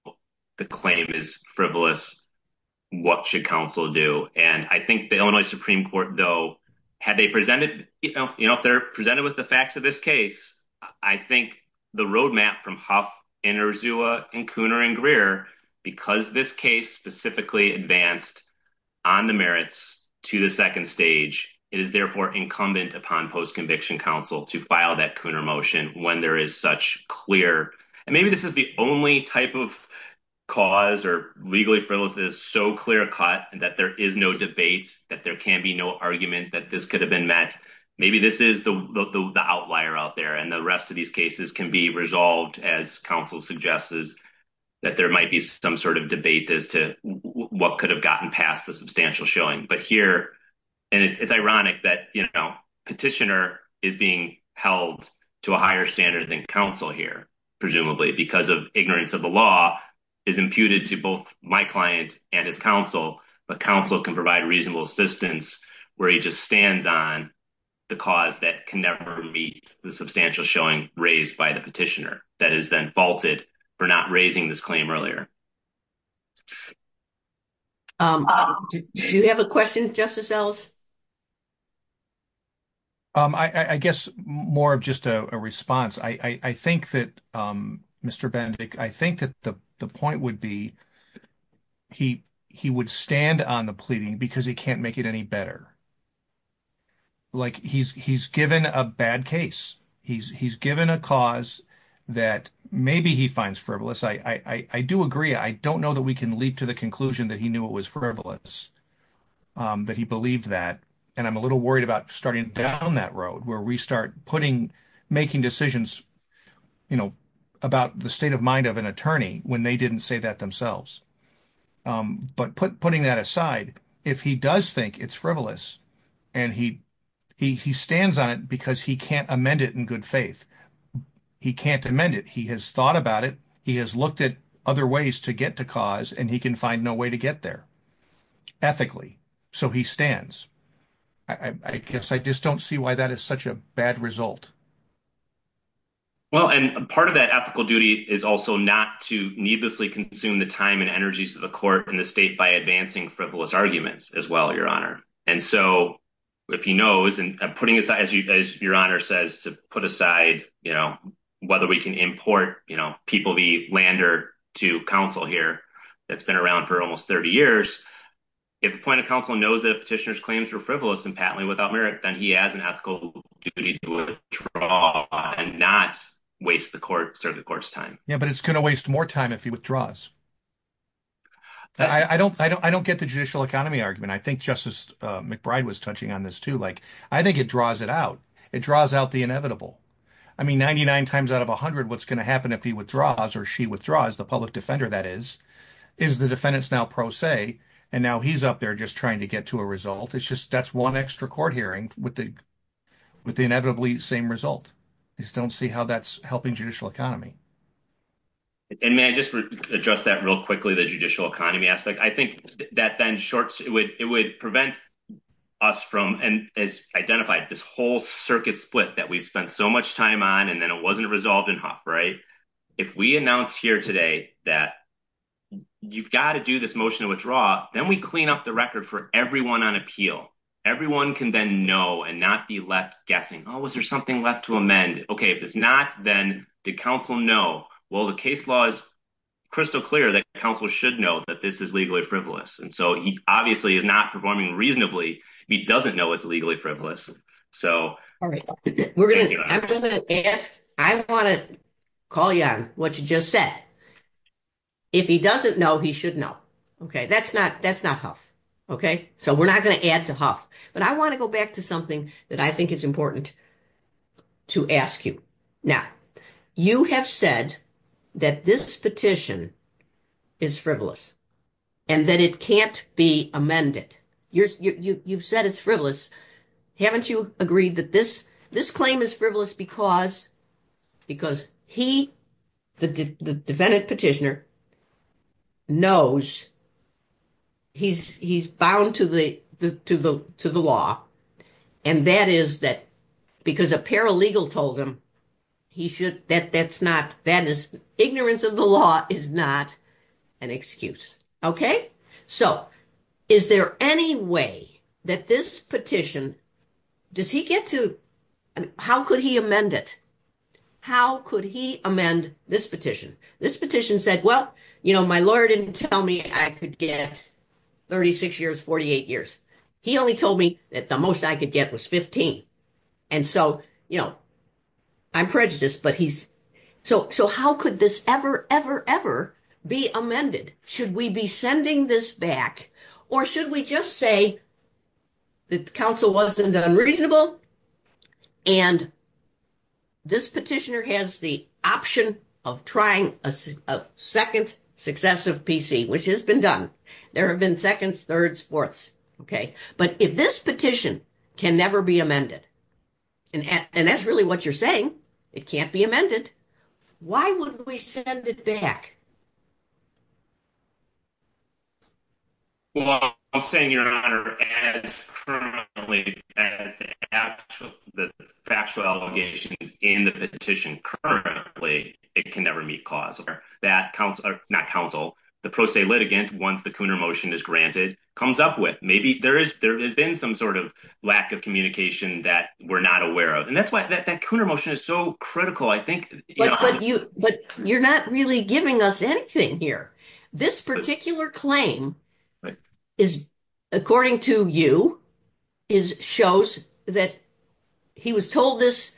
the claim is frivolous, what should counsel do? And I think the Illinois Supreme Court, though, had they presented, you know, if they're presented with the facts of this case, I think the roadmap from Huff and Urzula and Cooner and Greer, because this case specifically advanced on the merits to the second stage, it is therefore incumbent upon post-conviction counsel to file that Cooner motion when there is such clear, and maybe this is the only type of cause or legally frivolous, so clear-cut that there is no debate, that there can be no argument that this could have been met. Maybe this is the outlier out there and the rest of these cases can be resolved as counsel suggests that there might be some sort of debate as to what could have gotten past the substantial showing. But here, and it's ironic that, you know, petitioner is being held to a higher standard than counsel here, presumably because of ignorance of the law is imputed to both my client and his counsel, but counsel can provide reasonable assistance where he just stands on the cause that can never meet the substantial showing raised by the petitioner that is then faulted for not raising this claim earlier. Do you have a question, Justice Ellis? I guess more of just a response. I think that, Mr. Benedict, I think that the point would be he would stand on the pleading because he can't make it any better. Like, he's given a bad case. He's given a cause that maybe he finds frivolous. I do agree. I don't know that we can leap to the conclusion that he knew it was frivolous, but he believed that, and I'm a little worried about starting down that road where we start putting, making decisions, you know, about the state of mind of an attorney when they didn't say that themselves. But putting that aside, if he does think it's frivolous and he stands on it because he can't amend it in good faith, he can't amend it. He has thought about it. He has looked at other ways to get to cause, and he can find no way to get there ethically, so he stands. I guess I just don't see why that is such a bad result. Well, and part of that ethical duty is also not to needlessly consume the time and energies of the court and the state by advancing frivolous arguments as well, Your Honor. And so, if he knows, and putting aside, as Your Honor says, to put aside, you know, whether we can import, you know, People v. Lander to counsel here that's been around for almost 30 years, if the point of counsel knows that petitioners' claims were frivolous and patently without merit, he has an ethical duty to withdraw and not waste the court's time. Yeah, but it's going to waste more time if he withdraws. I don't get the judicial economy argument. I think Justice McBride was touching on this, too. Like, I think it draws it out. It draws out the inevitable. I mean, 99 times out of 100, what's going to happen if he withdraws or she withdraws, the public defender, that is, is the defendant's now pro se, and now he's up there just trying to get to a result. It's just, that's one extra court hearing with the inevitably same result. You just don't see how that's helping judicial economy. And may I just address that real quickly, the judicial economy aspect? I think that then shorts, it would prevent us from, and as identified, this whole circuit split that we've spent so much time on, and then it wasn't resolved enough, right? If we announce here today that you've got to do this motion to withdraw, then we clean up the record for everyone on appeal. Everyone can then know and not be left guessing. Oh, was there something left to amend? Okay, if it's not, then the counsel know. Well, the case law is crystal clear that counsel should know that this is legally frivolous. And so, he obviously is not performing reasonably. He doesn't know it's legally frivolous. I want to call you on what you just said. If he doesn't know, he should know. Okay, that's not Hough. Okay, so we're not going to add to Hough. But I want to go back to something that I think is important to ask you. Now, you have said that this petition is frivolous and that it can't be amended. You've said it's frivolous. Haven't you agreed that this claim is frivolous because he, the defendant petitioner, knows he's bound to the law? And that is that because a paralegal told him he should, that's not, that is, ignorance of the law is not an excuse. Okay? So, is there any way that this petition, does he get to, how could he amend it? How could he amend this petition? This petition said, well, you know, my lawyer didn't tell me I could get 36 years, 48 years. He only told me that the most I could get was 15. And so, you know, I'm prejudiced, but he's, so how could this ever, ever, ever be amended? Should we be sending this back? Or should we just say the counsel wasn't unreasonable and this petitioner has the option of trying a second successive PC, which has been done. There have been seconds, thirds, fourths. Okay? But if this petition can never be amended, and that's really what you're saying, it can't be amended, why would we send it back? Well, I'll say, Your Honor, as currently, as the actual allegation in the petition, currently, it can never meet cause. That counsel, not counsel, the pro se litigant, once the Cooner motion is granted, comes up with, maybe there is, there has been some sort of lack of communication that we're not aware of. And that's why that Cooner motion is so critical, I think. But you're not really giving us anything here. This particular claim is, according to you, is, shows that he was told this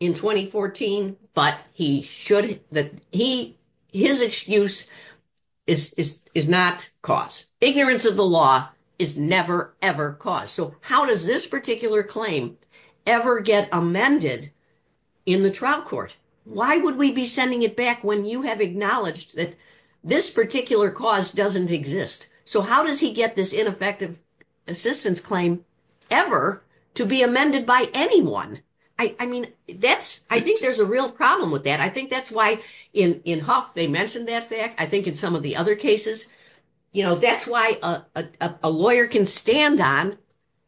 in 2014, but he should, that he, his excuse is not cause. Ignorance of the law is never, ever cause. So how does this particular claim ever get amended in the trial court? Why would we be sending it back when you have acknowledged that this particular cause doesn't exist? So how does he get this ineffective assistance claim ever to be amended by anyone? I mean, that's, I think there's a real problem with that. I think that's why in Huff, they mentioned that fact. I think in some of the other cases, you know, that's why a lawyer can stand on,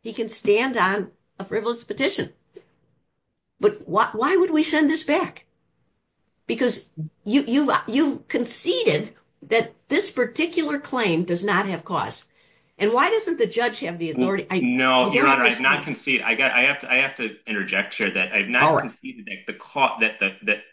he can stand on a frivolous petition. But why would we send this back? Because you conceded that this particular claim does not have cause. And why doesn't the judge have the authority? No, I have to interject here that I've not conceded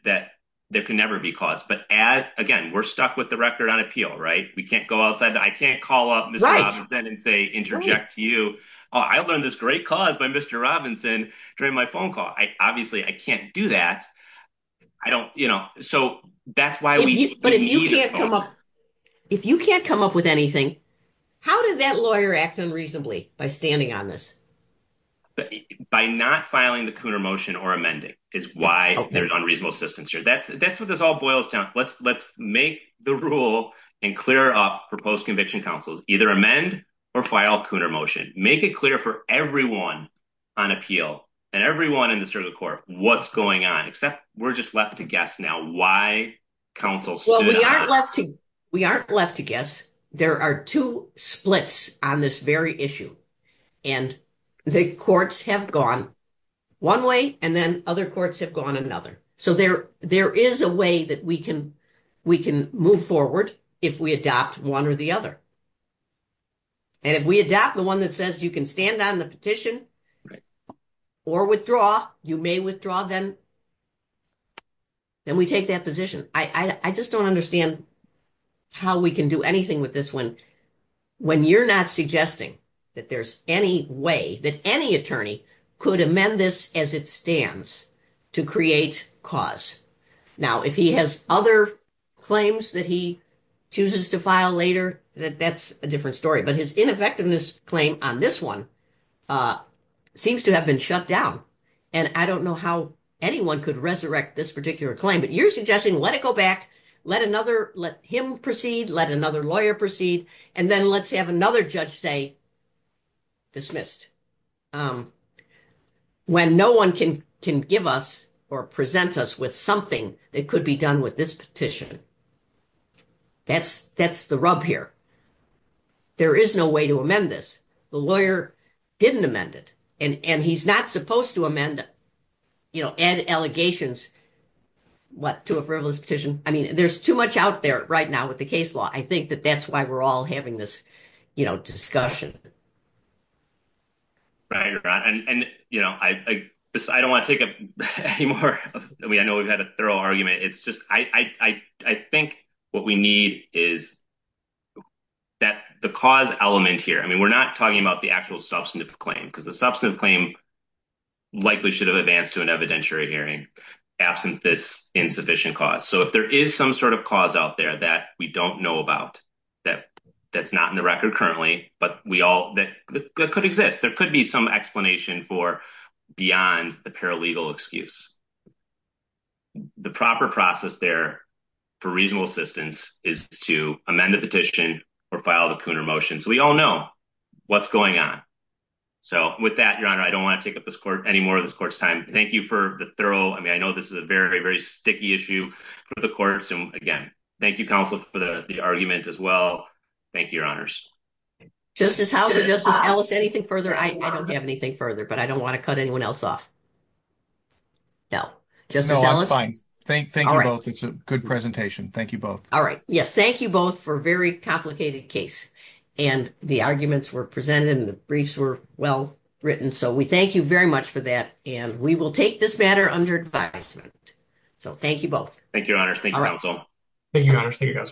that there can never be cause. But as, again, we're stuck with the record on appeal, right? We can't go outside, I can't call up Mr. Robinson and say, interject to you. Oh, I learned this great cause by Mr. Robinson during my phone call. I obviously, I can't do that. I don't, you know, so that's why. If you can't come up with anything, how does that lawyer act unreasonably by standing on this? By not filing the Cooner motion or amending is why there's unreasonable assistance here. That's either amend or file Cooner motion. Make it clear for everyone on appeal and everyone in the circuit court what's going on, except we're just left to guess now why counsel stood on it. We aren't left to guess. There are two splits on this very issue. And the courts have gone one way and then other courts have gone another. So there is a way that we can move forward if we adopt one or the other. And if we adopt the one that says you can stand on the petition or withdraw, you may withdraw them, then we take that position. I just don't understand how we can do anything with this one when you're not suggesting that there's any way that any chooses to file later. That's a different story. But his ineffectiveness claim on this one seems to have been shut down. And I don't know how anyone could resurrect this particular claim. But you're suggesting let it go back, let another, let him proceed, let another lawyer proceed, and then let's have another judge say dismissed. When no one can give us or present us with something that could be done with this petition. That's the rub here. There is no way to amend this. The lawyer didn't amend it. And he's not supposed to amend it, you know, add allegations, what, to a frivolous petition. I mean, there's too much out there right now with the case law. I think that that's why we're all having this, you know, discussion. Right. And, you know, I don't want to take up any more. I mean, I know we've had a thorough argument. It's just I think what we need is that the cause element here, I mean, we're not talking about the actual substantive claim, because the substantive claim likely should have advanced to an evidentiary hearing, absent this insufficient cause. So if there is some sort of cause out there that we don't know about, that that's not in the record currently, but we all that could exist, there could be some explanation for beyond the paralegal excuse. The proper process there for reasonable assistance is to amend the petition or file the punitive motion. So we all know what's going on. So with that, Your Honor, I don't want to take up any more of this court's time. Thank you for the thorough. I mean, I know this is a very, very sticky issue for the courts. And again, thank you, counsel, for the argument as well. Thank you, Your Honors. Justice Howell, Justice Ellis, anything further? I don't have anything further, but I don't want to cut anyone else off. No, Justice Ellis? No, I'm fine. Thank you both. It's a good presentation. Thank you both. All right. Yes. Thank you both for a very complicated case. And the arguments were presented and the briefs were well written. So we thank you very much for that. And we will take this matter under advisement. So thank you both. Thank you, Your Honors. Thank you, counsel.